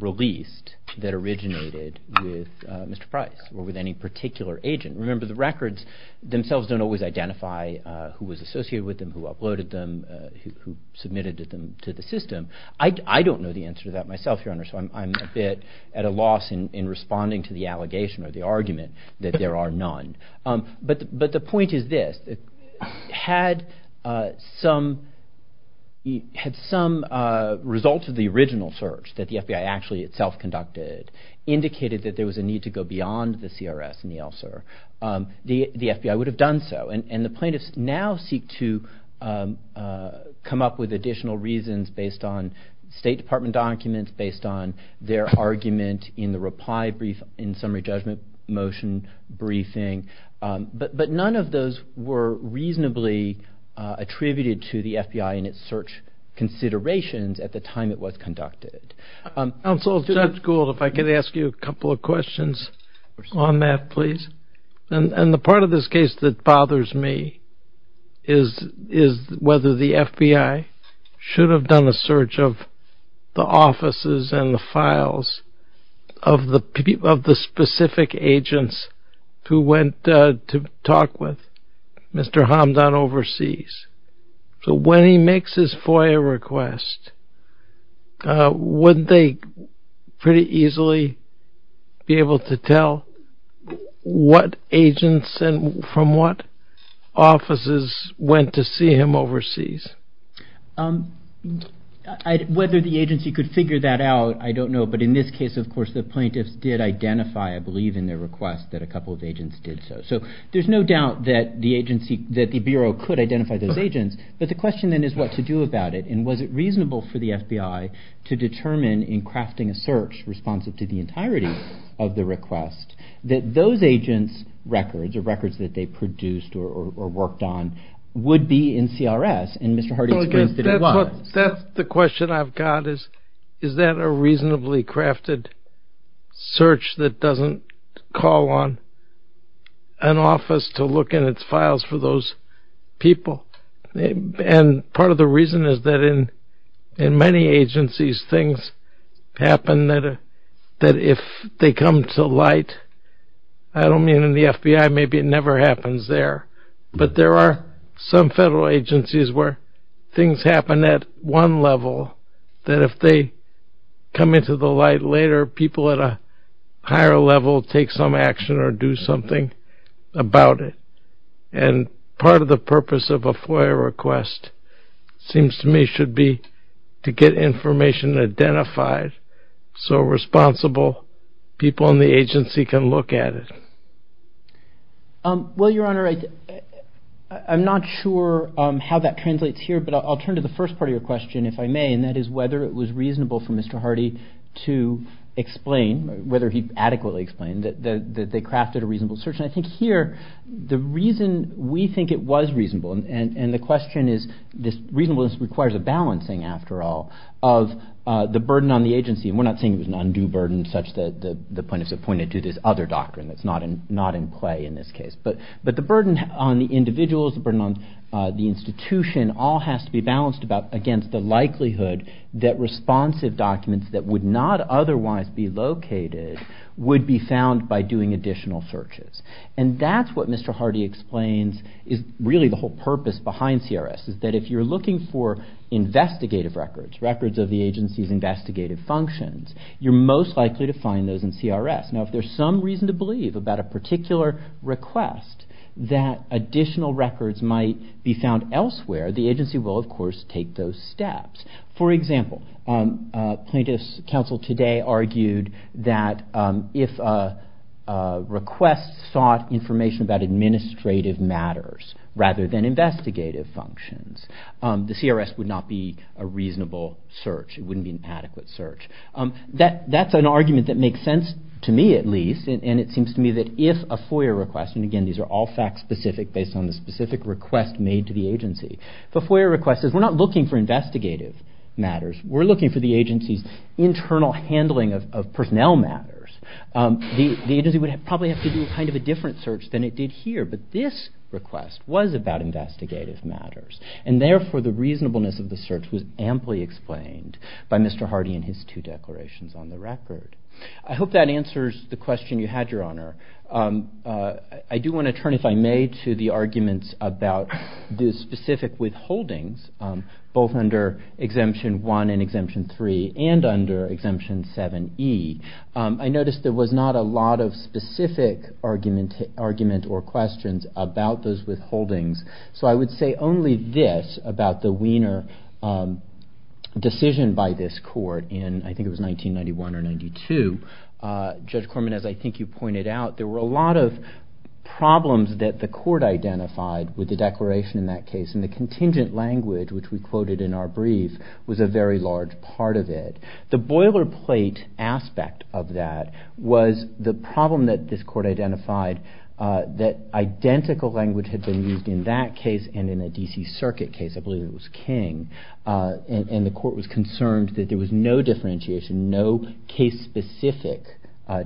released that originated with Mr. Price or with any particular agent. Remember, the records themselves don't always identify who was associated with them, who uploaded them, who submitted them to the system. I don't know the answer to that myself, Your Honor, so I'm a bit at a loss in responding to the allegation or the argument that there are none. But the point is this. Had some results of the original search that the FBI actually itself conducted indicated that there was a need to go beyond the CRS and the ELSR, the FBI would have done so, and the plaintiffs now seek to come up with additional reasons based on State Department documents, based on their argument in the reply brief in summary judgment motion briefing. But none of those were reasonably attributed to the FBI in its search considerations at the time it was conducted. Counsel, Judge Gould, if I could ask you a couple of questions on that, please. And the part of this case that bothers me is whether the FBI should have done a search of the offices and the files of the specific agents who went to talk with Mr. Hamdan overseas. So when he makes his FOIA request, wouldn't they pretty easily be able to tell what agents and from what offices went to see him overseas? Whether the agency could figure that out, I don't know. But in this case, of course, the plaintiffs did identify, I believe in their request, that a couple of agents did so. So there's no doubt that the agency, that the Bureau could identify those agents. But the question then is what to do about it. And was it reasonable for the FBI to determine in crafting a search responsive to the entirety of the request that those agents' records or records that they produced or worked on would be in CRS and Mr. Hardy experienced that it was? That's the question I've got is, is that a reasonably crafted search that doesn't call on an office to look in its files for those people? And part of the reason is that in many agencies, things happen that if they come to light, I don't mean in the FBI, maybe it never happens there. But there are some federal agencies where things happen at one level that if they come into the light later, people at a higher level take some action or do something about it. And part of the purpose of a FOIA request seems to me should be to get information identified so responsible people in the agency can look at it. Well, Your Honor, I'm not sure how that translates here, but I'll turn to the first part of your question if I may, and that is whether it was reasonable for Mr. Hardy to explain, whether he adequately explained that they crafted a reasonable search. And I think here the reason we think it was reasonable, and the question is, this reasonableness requires a balancing, after all, of the burden on the agency. And we're not saying it was an undue burden, such that the plaintiffs have pointed to this other doctrine that's not in play in this case. But the burden on the individuals, the burden on the institution all has to be balanced against the likelihood that responsive documents that would not otherwise be located would be found by doing additional searches. And that's what Mr. Hardy explains is really the whole purpose behind CRS, is that if you're looking for investigative records, records of the agency's investigative functions, you're most likely to find those in CRS. Now, if there's some reason to believe about a particular request that additional records might be found elsewhere, the agency will, of course, take those steps. For example, plaintiffs' counsel today argued that if a request sought information about administrative matters rather than investigative functions, the CRS would not be a reasonable search, it wouldn't be an adequate search. That's an argument that makes sense to me, at least, and it seems to me that if a FOIA request, and again, these are all fact-specific based on the specific request made to the agency, if a FOIA request says, we're not looking for investigative matters, we're looking for the agency's internal handling of personnel matters, the agency would probably have to do a different search than it did here. But this request was about investigative matters. And therefore, the reasonableness of the search was amply explained by Mr. Hardy and his two declarations on the record. I hope that answers the question you had, Your Honor. I do want to turn, if I may, to the arguments about the specific withholdings, both under Exemption 1 and Exemption 3, and under Exemption 7e. I noticed there was not a lot of specific argument or questions about those withholdings, so I would say only this about the Wiener decision by this court in, I think it was 1991 or 92. Judge Corman, as I think you pointed out, there were a lot of problems that the court identified with the declaration in that case, and the contingent language, which we quoted in our brief, was a very large part of it. The boilerplate aspect of that was the problem that this court identified, that identical language had been used in that case and in a D.C. Circuit case, I believe it was King, and the court was concerned that there was no differentiation, no case-specific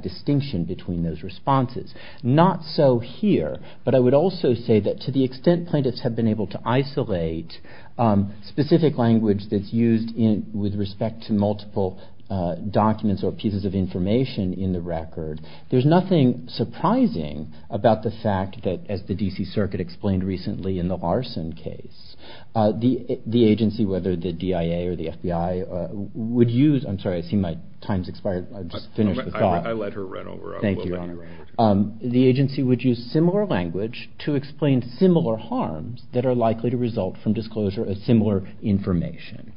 distinction between those responses. Not so here, but I would also say that to the extent plaintiffs have been able to isolate specific language that's used with respect to multiple documents or pieces of information in the record, there's nothing surprising about the fact that, as the D.C. Circuit explained recently in the Larson case, the agency, whether the DIA or the FBI, would use... I'm sorry, I see my time's expired. I'll just finish the thought. I let her run over. Thank you, Your Honor. ...the agency would use similar language to explain similar harms that are likely to result from disclosure of similar information.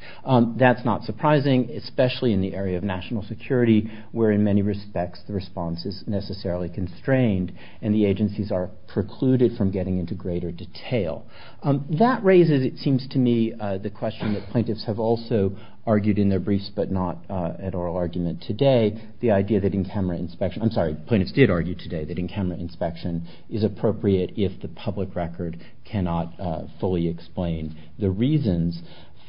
That's not surprising, especially in the area of national security, where in many respects the response is necessarily constrained and the agencies are precluded from getting into greater detail. That raises, it seems to me, the question that plaintiffs have also argued in their briefs but not at oral argument today, the idea that in-camera inspection... I'm sorry, plaintiffs did argue today that in-camera inspection is appropriate if the public record cannot fully explain the reasons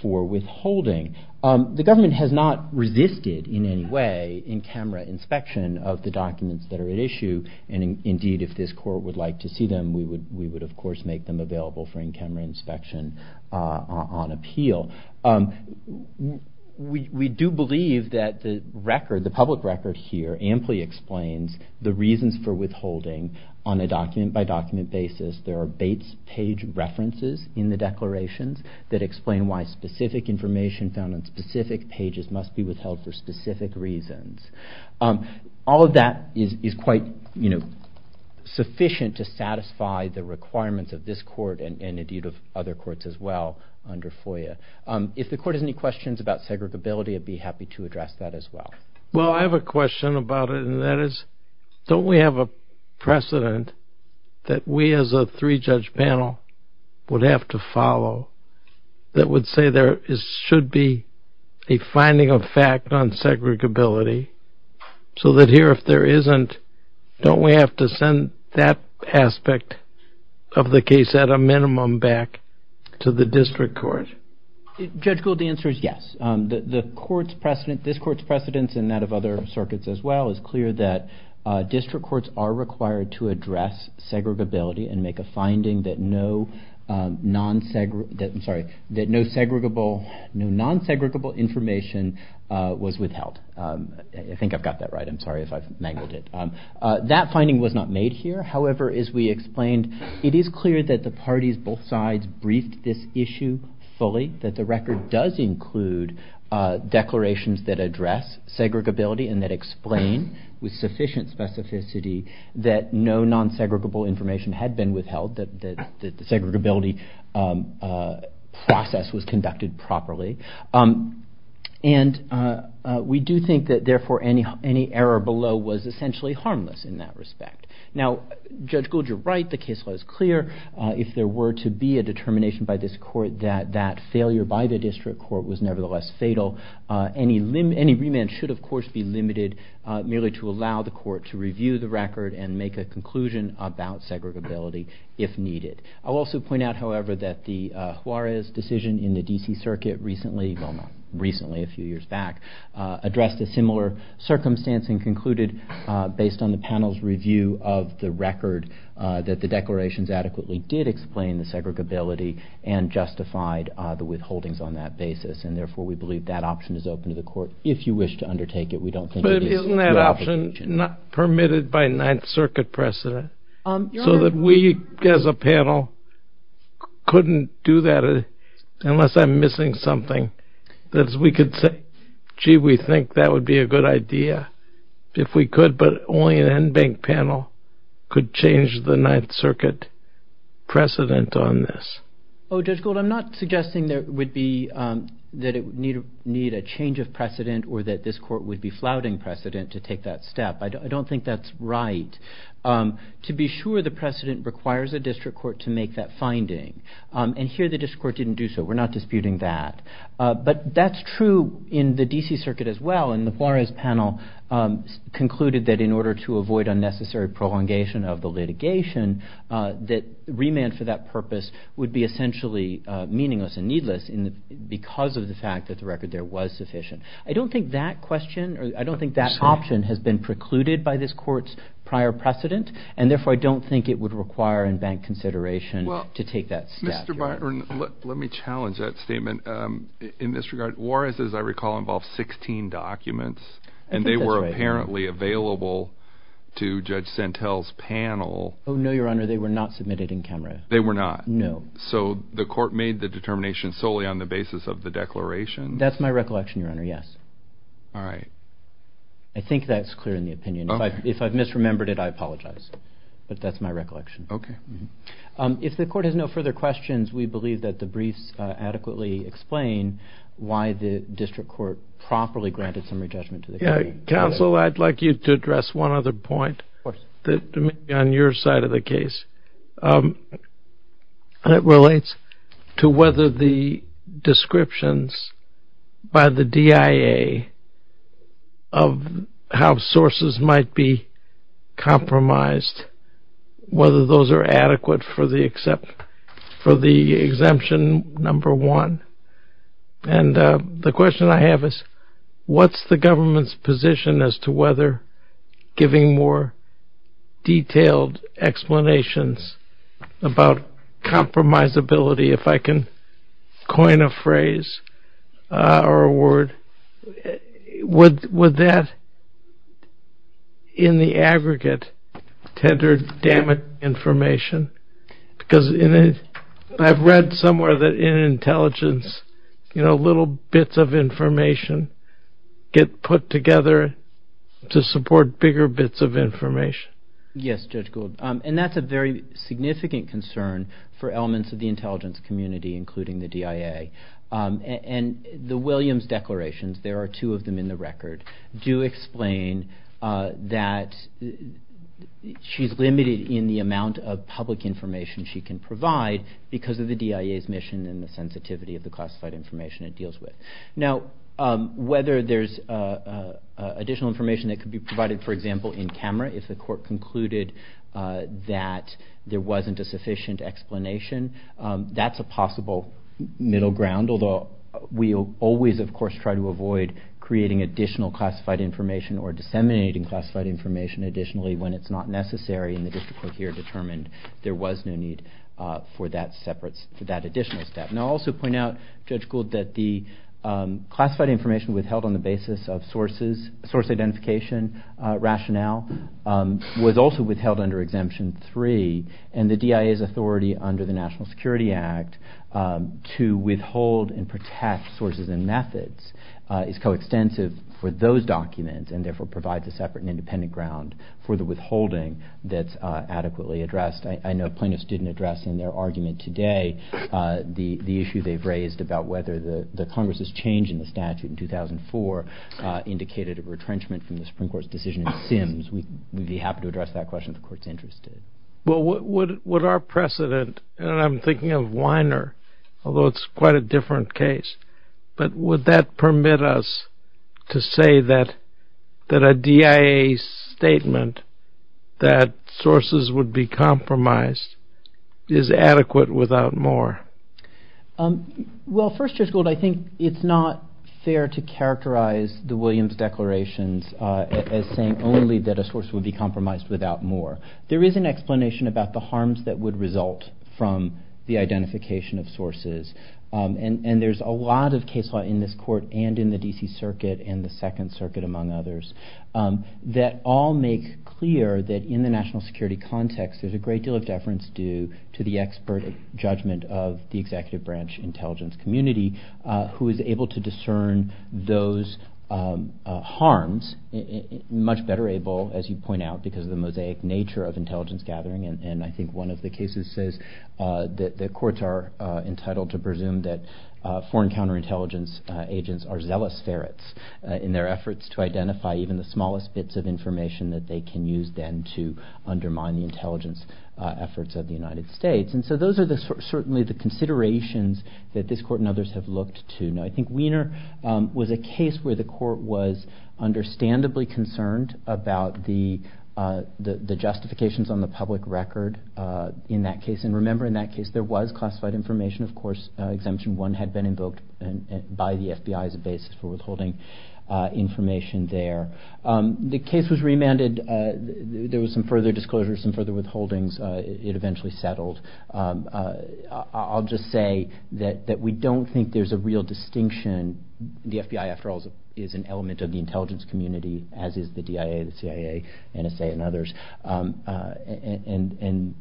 for withholding. The government has not resisted in any way in-camera inspection of the documents that are at issue, and indeed, if this Court would like to see them, we would, of course, make them available for in-camera inspection on appeal. We do believe that the public record here amply explains the reasons for withholding on a document-by-document basis. There are Bates page references in the declarations that explain why specific information found on specific pages must be withheld for specific reasons. to satisfy the requirements of this Court and indeed of other courts as well under FOIA. If the Court has any questions about segregability, I'd be happy to address that as well. Well, I have a question about it, and that is, don't we have a precedent that we as a three-judge panel would have to follow that would say there should be a finding of fact on segregability so that here, if there isn't, don't we have to send that aspect of the case at a minimum back to the district court? Judge Gould, the answer is yes. This Court's precedence and that of other circuits as well is clear that district courts are required to address segregability and make a finding that no non-segregable information was withheld. I think I've got that right. I'm sorry if I've mangled it. That finding was not made here. However, as we explained, it is clear that the parties, both sides, briefed this issue fully, that the record does include declarations that address segregability and that explain with sufficient specificity that no non-segregable information had been withheld, that the segregability process was conducted properly. And we do think that, therefore, any error below was essentially harmless in that respect. Now, Judge Gould, you're right. The case law is clear. If there were to be a determination by this Court that that failure by the district court was nevertheless fatal, any remand should, of course, be limited merely to allow the Court to review the record and make a conclusion about segregability if needed. I'll also point out, however, that the Juarez decision in the D.C. Circuit recently, well, not recently, a few years back, addressed a similar circumstance and concluded, based on the panel's review of the record, that the declarations adequately did explain the segregability and justified the withholdings on that basis. And, therefore, we believe that option is open to the Court. If you wish to undertake it, we don't think it is. But isn't that option permitted by Ninth Circuit precedent so that we, as a panel, couldn't do that unless I'm missing something, that we could say, gee, we think that would be a good idea if we could, but only an NBank panel could change the Ninth Circuit precedent on this? Oh, Judge Gould, I'm not suggesting that it would need a change of precedent or that this Court would be flouting precedent to take that step. I don't think that's right. To be sure, the precedent requires a district court to make that finding. And here, the district court didn't do so. We're not disputing that. But that's true in the D.C. Circuit as well. And the Juarez panel concluded that in order to avoid unnecessary prolongation of the litigation, that remand for that purpose would be essentially meaningless and needless because of the fact that the record there was sufficient. I don't think that question or I don't think that option has been precluded by this Court's prior precedent, and therefore I don't think it would require NBank consideration to take that step. Mr. Byron, let me challenge that statement in this regard. Juarez, as I recall, involved 16 documents, and they were apparently available to Judge Sentell's panel. Oh, no, Your Honor, they were not submitted in camera. They were not? No. So the Court made the determination solely on the basis of the declaration? That's my recollection, Your Honor, yes. All right. I think that's clear in the opinion. If I've misremembered it, I apologize. But that's my recollection. Okay. If the Court has no further questions, we believe that the briefs adequately explain why the District Court properly granted summary judgment to the jury. Counsel, I'd like you to address one other point that may be on your side of the case. It relates to whether the descriptions by the DIA of how sources might be compromised, whether those are adequate for the exemption number one. And the question I have is, what's the government's position as to whether giving more detailed explanations about compromisability, if I can coin a phrase or a word, would that, in the aggregate, tender damage information? Because I've read somewhere that in intelligence, little bits of information get put together to support bigger bits of information. Yes, Judge Gould. And that's a very significant concern for elements of the intelligence community, including the DIA. And the Williams declarations, there are two of them in the record, do explain that she's limited in the amount of public information she can provide because of the DIA's mission and the sensitivity of the classified information it deals with. Now, whether there's additional information that could be provided, for example, in camera, if the court concluded that there wasn't a sufficient explanation, that's a possible middle ground, although we always, of course, try to avoid creating additional classified information or disseminating classified information additionally when it's not necessary and the district court here determined there was no need for that additional step. And I'll also point out, Judge Gould, that the classified information withheld on the basis of source identification rationale was also withheld under Exemption 3, and the DIA's authority under the National Security Act to withhold and protect sources and methods is coextensive for those documents and therefore provides a separate and independent ground for the withholding that's adequately addressed. I know plaintiffs didn't address in their argument today the issue they've raised about whether the Congress's change in the statute in 2004 indicated a retrenchment from the Supreme Court's decision in Sims. We'd be happy to address that question if the court's interested. Well, would our precedent, and I'm thinking of Weiner, although it's quite a different case, but would that permit us to say that a DIA statement that sources would be compromised is adequate without more? Well, first, Judge Gould, I think it's not fair to characterize the Williams declarations as saying only that a source would be compromised without more. There is an explanation about the harms that would result from the identification of sources, and there's a lot of case law in this court and in the D.C. Circuit and the Second Circuit, among others, that all make clear that in the national security context there's a great deal of deference due to the expert judgment of the executive branch intelligence community who is able to discern those harms much better able, as you point out, because of the mosaic nature of intelligence gathering. And I think one of the cases says that the courts are entitled to presume that foreign counterintelligence agents are zealous ferrets in their efforts to identify even the smallest bits of information that they can use then to undermine the intelligence efforts of the United States. And so those are certainly the considerations that this court and others have looked to. Now, I think Wiener was a case where the court was understandably concerned about the justifications on the public record in that case. And remember, in that case, there was classified information. Of course, Exemption 1 had been invoked by the FBI as a basis for withholding information there. The case was remanded. There were some further disclosures, some further withholdings. It eventually settled. I'll just say that we don't think there's a real distinction. The FBI, after all, is an element of the intelligence community, as is the DIA, the CIA, NSA, and others. And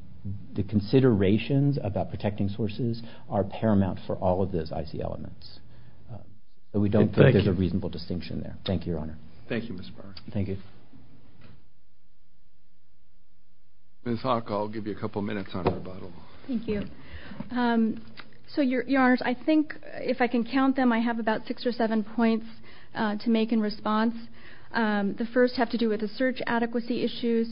the considerations about protecting sources are paramount for all of those IC elements. We don't think there's a reasonable distinction there. Thank you, Your Honor. Thank you, Mr. Barr. Thank you. Ms. Haack, I'll give you a couple minutes on rebuttal. Thank you. So, Your Honors, I think, if I can count them, I have about six or seven points to make in response. The first has to do with the search adequacy issues.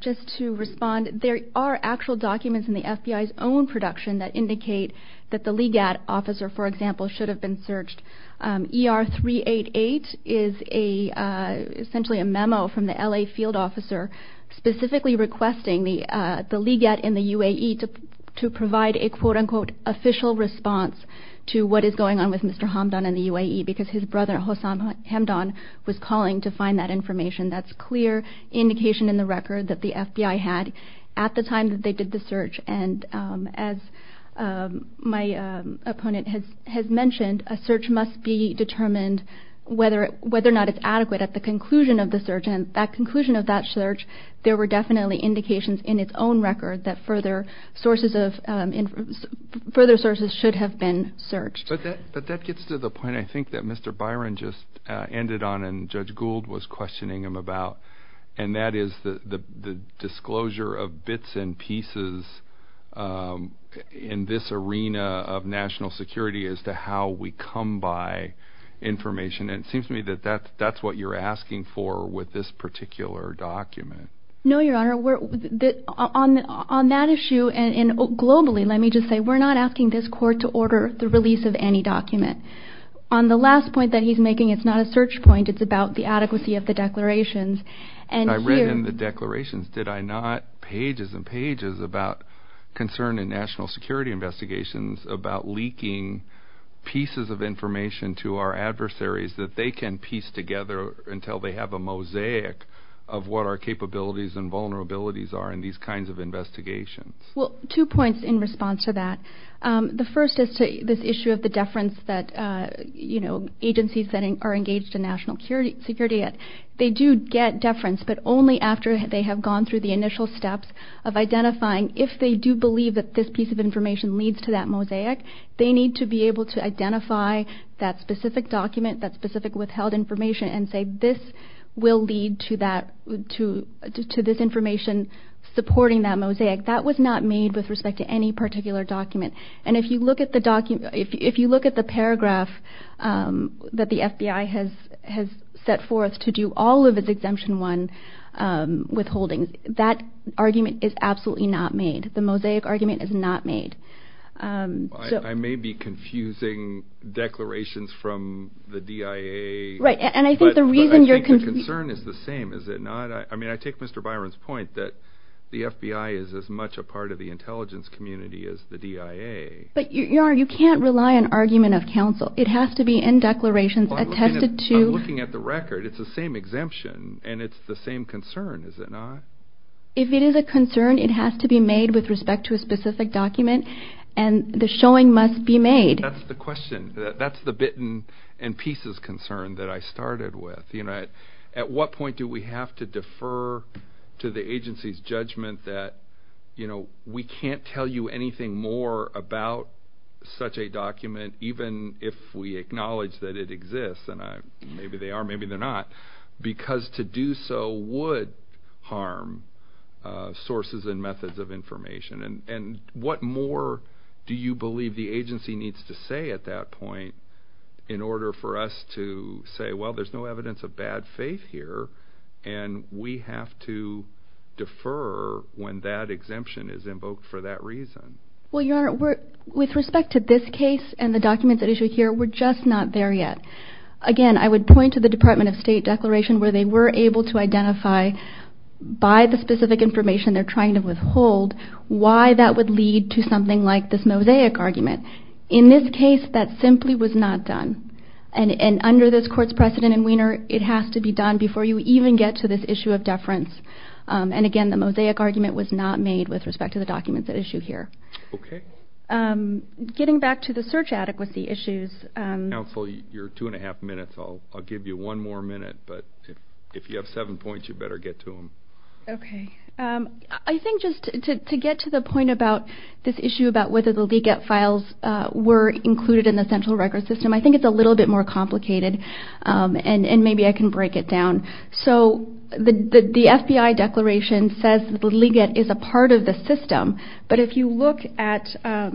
Just to respond, there are actual documents in the FBI's own production that indicate that the LEGAD officer, for example, should have been searched. ER-388 is essentially a memo from the L.A. field officer specifically requesting the LEGAD in the UAE to provide a, quote-unquote, official response to what is going on with Mr. Hamdan in the UAE because his brother, Hossam Hamdan, was calling to find that information. That's clear indication in the record that the FBI had at the time that they did the search. And as my opponent has mentioned, a search must be determined whether or not it's adequate at the conclusion of the search. And at the conclusion of that search, there were definitely indications in its own record that further sources should have been searched. But that gets to the point, I think, that Mr. Byron just ended on and Judge Gould was questioning him about, and that is the disclosure of bits and pieces in this arena of national security as to how we come by information. And it seems to me that that's what you're asking for with this particular document. No, Your Honor. On that issue, and globally, let me just say, we're not asking this court to order the release of any document. On the last point that he's making, it's not a search point. It's about the adequacy of the declarations. I read in the declarations, did I not, pages and pages about concern in national security investigations about leaking pieces of information to our adversaries that they can piece together until they have a mosaic of what our capabilities and vulnerabilities are in these kinds of investigations. Well, two points in response to that. The first is to this issue of the deference that, you know, agencies that are engaged in national security, they do get deference, but only after they have gone through the initial steps of identifying if they do believe that this piece of information leads to that mosaic. They need to be able to identify that specific document, that specific withheld information, and say this will lead to that, to this information supporting that mosaic. That was not made with respect to any particular document. And if you look at the paragraph that the FBI has set forth to do all of its Exemption 1 withholdings, that argument is absolutely not made. The mosaic argument is not made. I may be confusing declarations from the DIA. Right, and I think the reason you're... But I think the concern is the same, is it not? I mean, I take Mr. Byron's point that the FBI is as much a part of the intelligence community as the DIA. But you can't rely on argument of counsel. It has to be in declarations attested to... I'm looking at the record. It's the same exemption, and it's the same concern, is it not? If it is a concern, it has to be made with respect to a specific document, and the showing must be made. That's the question. That's the bit and pieces concern that I started with. At what point do we have to defer to the agency's judgment that we can't tell you anything more about such a document, even if we acknowledge that it exists, and maybe they are, maybe they're not, because to do so would harm sources and methods of information? And what more do you believe the agency needs to say at that point in order for us to say, well, there's no evidence of bad faith here, and we have to defer when that exemption is invoked for that reason? Well, Your Honor, with respect to this case and the documents at issue here, we're just not there yet. Again, I would point to the Department of State declaration where they were able to identify, by the specific information they're trying to withhold, why that would lead to something like this mosaic argument. In this case, that simply was not done. And under this court's precedent in Wiener, it has to be done before you even get to this issue of deference. And again, the mosaic argument was not made with respect to the documents at issue here. Okay. Getting back to the search adequacy issues. Counsel, you're two and a half minutes. I'll give you one more minute, but if you have seven points, you better get to them. Okay. I think just to get to the point about this issue about whether the leak-out files were included in the central record system, I think it's a little bit more complicated and maybe I can break it down. So the FBI declaration says the leak-out is a part of the system, but if you look at ER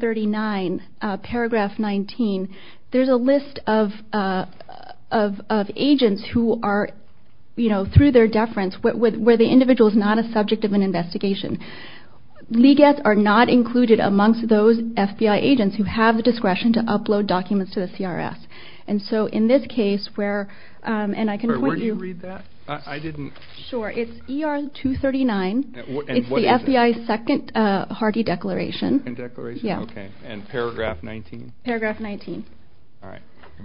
39, paragraph 19, there's a list of agents who are, you know, through their deference, where the individual is not a subject of an investigation. Leak-outs are not included amongst those FBI agents who have the discretion to upload documents to the CRS. And so in this case where, and I can point you. Where did you read that? I didn't. Sure. It's ER 239. And what is it? It's the FBI's second hearty declaration. Second declaration? Yeah. Okay. And paragraph 19? Paragraph 19. All right.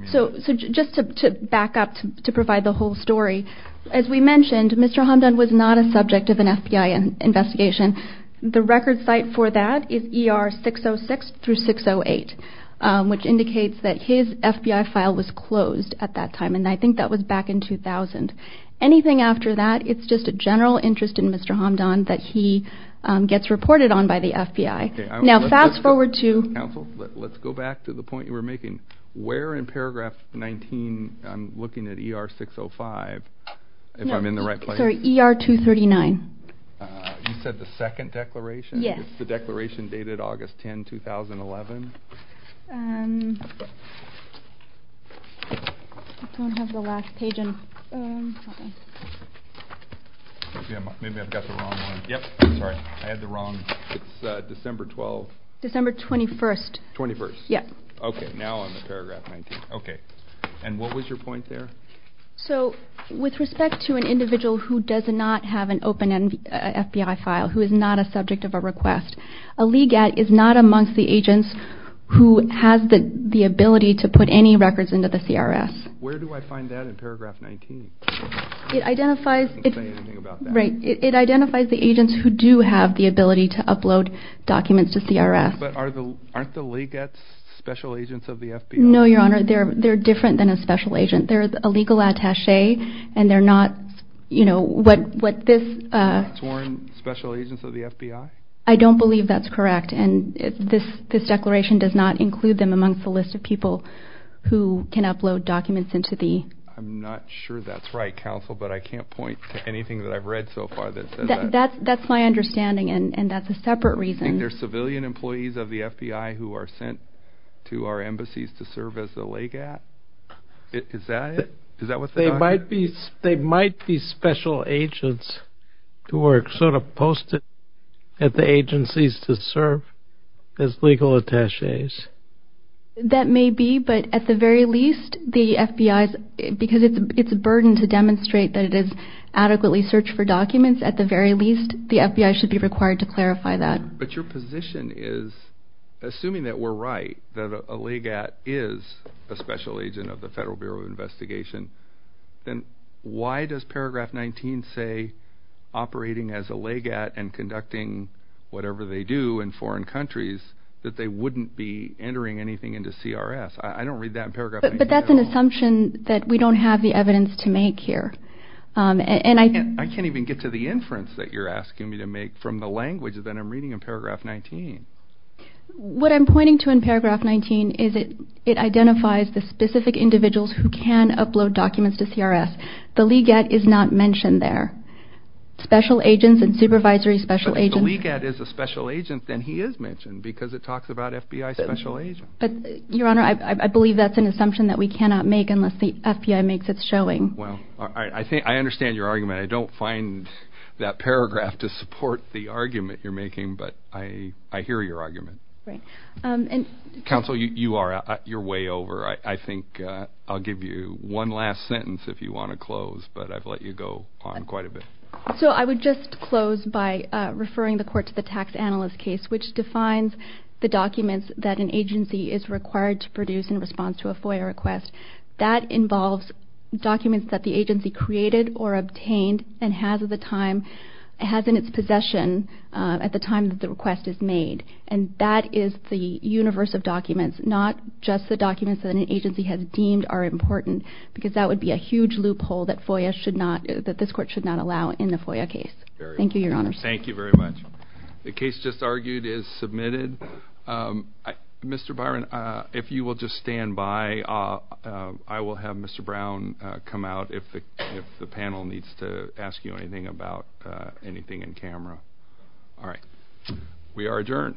So just to back up to provide the whole story, as we mentioned, Mr. Hamdan was not a subject of an FBI investigation. The record site for that is ER 606 through 608, which indicates that his FBI file was closed at that time, and I think that was back in 2000. Anything after that, it's just a general interest in Mr. Hamdan that he gets reported on by the FBI. Okay. Now fast forward to. Counsel, let's go back to the point you were making. Where in paragraph 19, I'm looking at ER 605, if I'm in the right place. No, sorry, ER 239. You said the second declaration? Yes. It's the declaration dated August 10, 2011. I don't have the last page in. Maybe I've got the wrong one. Yep. Sorry. I had the wrong. It's December 12th. December 21st. 21st. Yep. Okay. Now I'm at paragraph 19. Okay. And what was your point there? So with respect to an individual who does not have an open FBI file, who is not a subject of a request, a LEGAT is not amongst the agents who has the ability to put any records into the CRS. Where do I find that in paragraph 19? It identifies the agents who do have the ability to upload documents to CRS. But aren't the LEGATs special agents of the FBI? No, Your Honor. They're different than a special agent. They're a legal attache, and they're not, you know, what this. They're not sworn special agents of the FBI? I don't believe that's correct. And this declaration does not include them amongst the list of people who can upload documents into the. I'm not sure that's right, counsel, but I can't point to anything that I've read so far that says that. That's my understanding, and that's a separate reason. I think they're civilian employees of the FBI who are sent to our embassies to serve as the LEGAT. Is that it? Is that what that is? They might be special agents who are sort of posted at the agencies to serve as legal attaches. That may be, but at the very least, the FBI, because it's a burden to demonstrate that it has adequately searched for documents, at the very least, the FBI should be required to clarify that. But your position is, assuming that we're right, that a LEGAT is a special agent of the Federal Bureau of Investigation, then why does Paragraph 19 say operating as a LEGAT and conducting whatever they do in foreign countries, that they wouldn't be entering anything into CRS? I don't read that in Paragraph 19 at all. But that's an assumption that we don't have the evidence to make here. I can't even get to the inference that you're asking me to make from the language that I'm reading in Paragraph 19. What I'm pointing to in Paragraph 19 is it identifies the specific individuals who can upload documents to CRS. The LEGAT is not mentioned there. Special agents and supervisory special agents. But if the LEGAT is a special agent, then he is mentioned because it talks about FBI special agents. But, Your Honor, I believe that's an assumption that we cannot make unless the FBI makes its showing. Well, I understand your argument. I don't find that paragraph to support the argument you're making, but I hear your argument. Counsel, you're way over. I think I'll give you one last sentence if you want to close, but I've let you go on quite a bit. So I would just close by referring the court to the tax analyst case, which defines the documents that an agency is required to produce in response to a FOIA request. That involves documents that the agency created or obtained and has in its possession at the time that the request is made. And that is the universe of documents. Not just the documents that an agency has deemed are important because that would be a huge loophole that this court should not allow in the FOIA case. Thank you, Your Honor. Thank you very much. The case just argued is submitted. Mr. Byron, if you will just stand by, I will have Mr. Brown come out if the panel needs to ask you anything about anything in camera. All right. We are adjourned.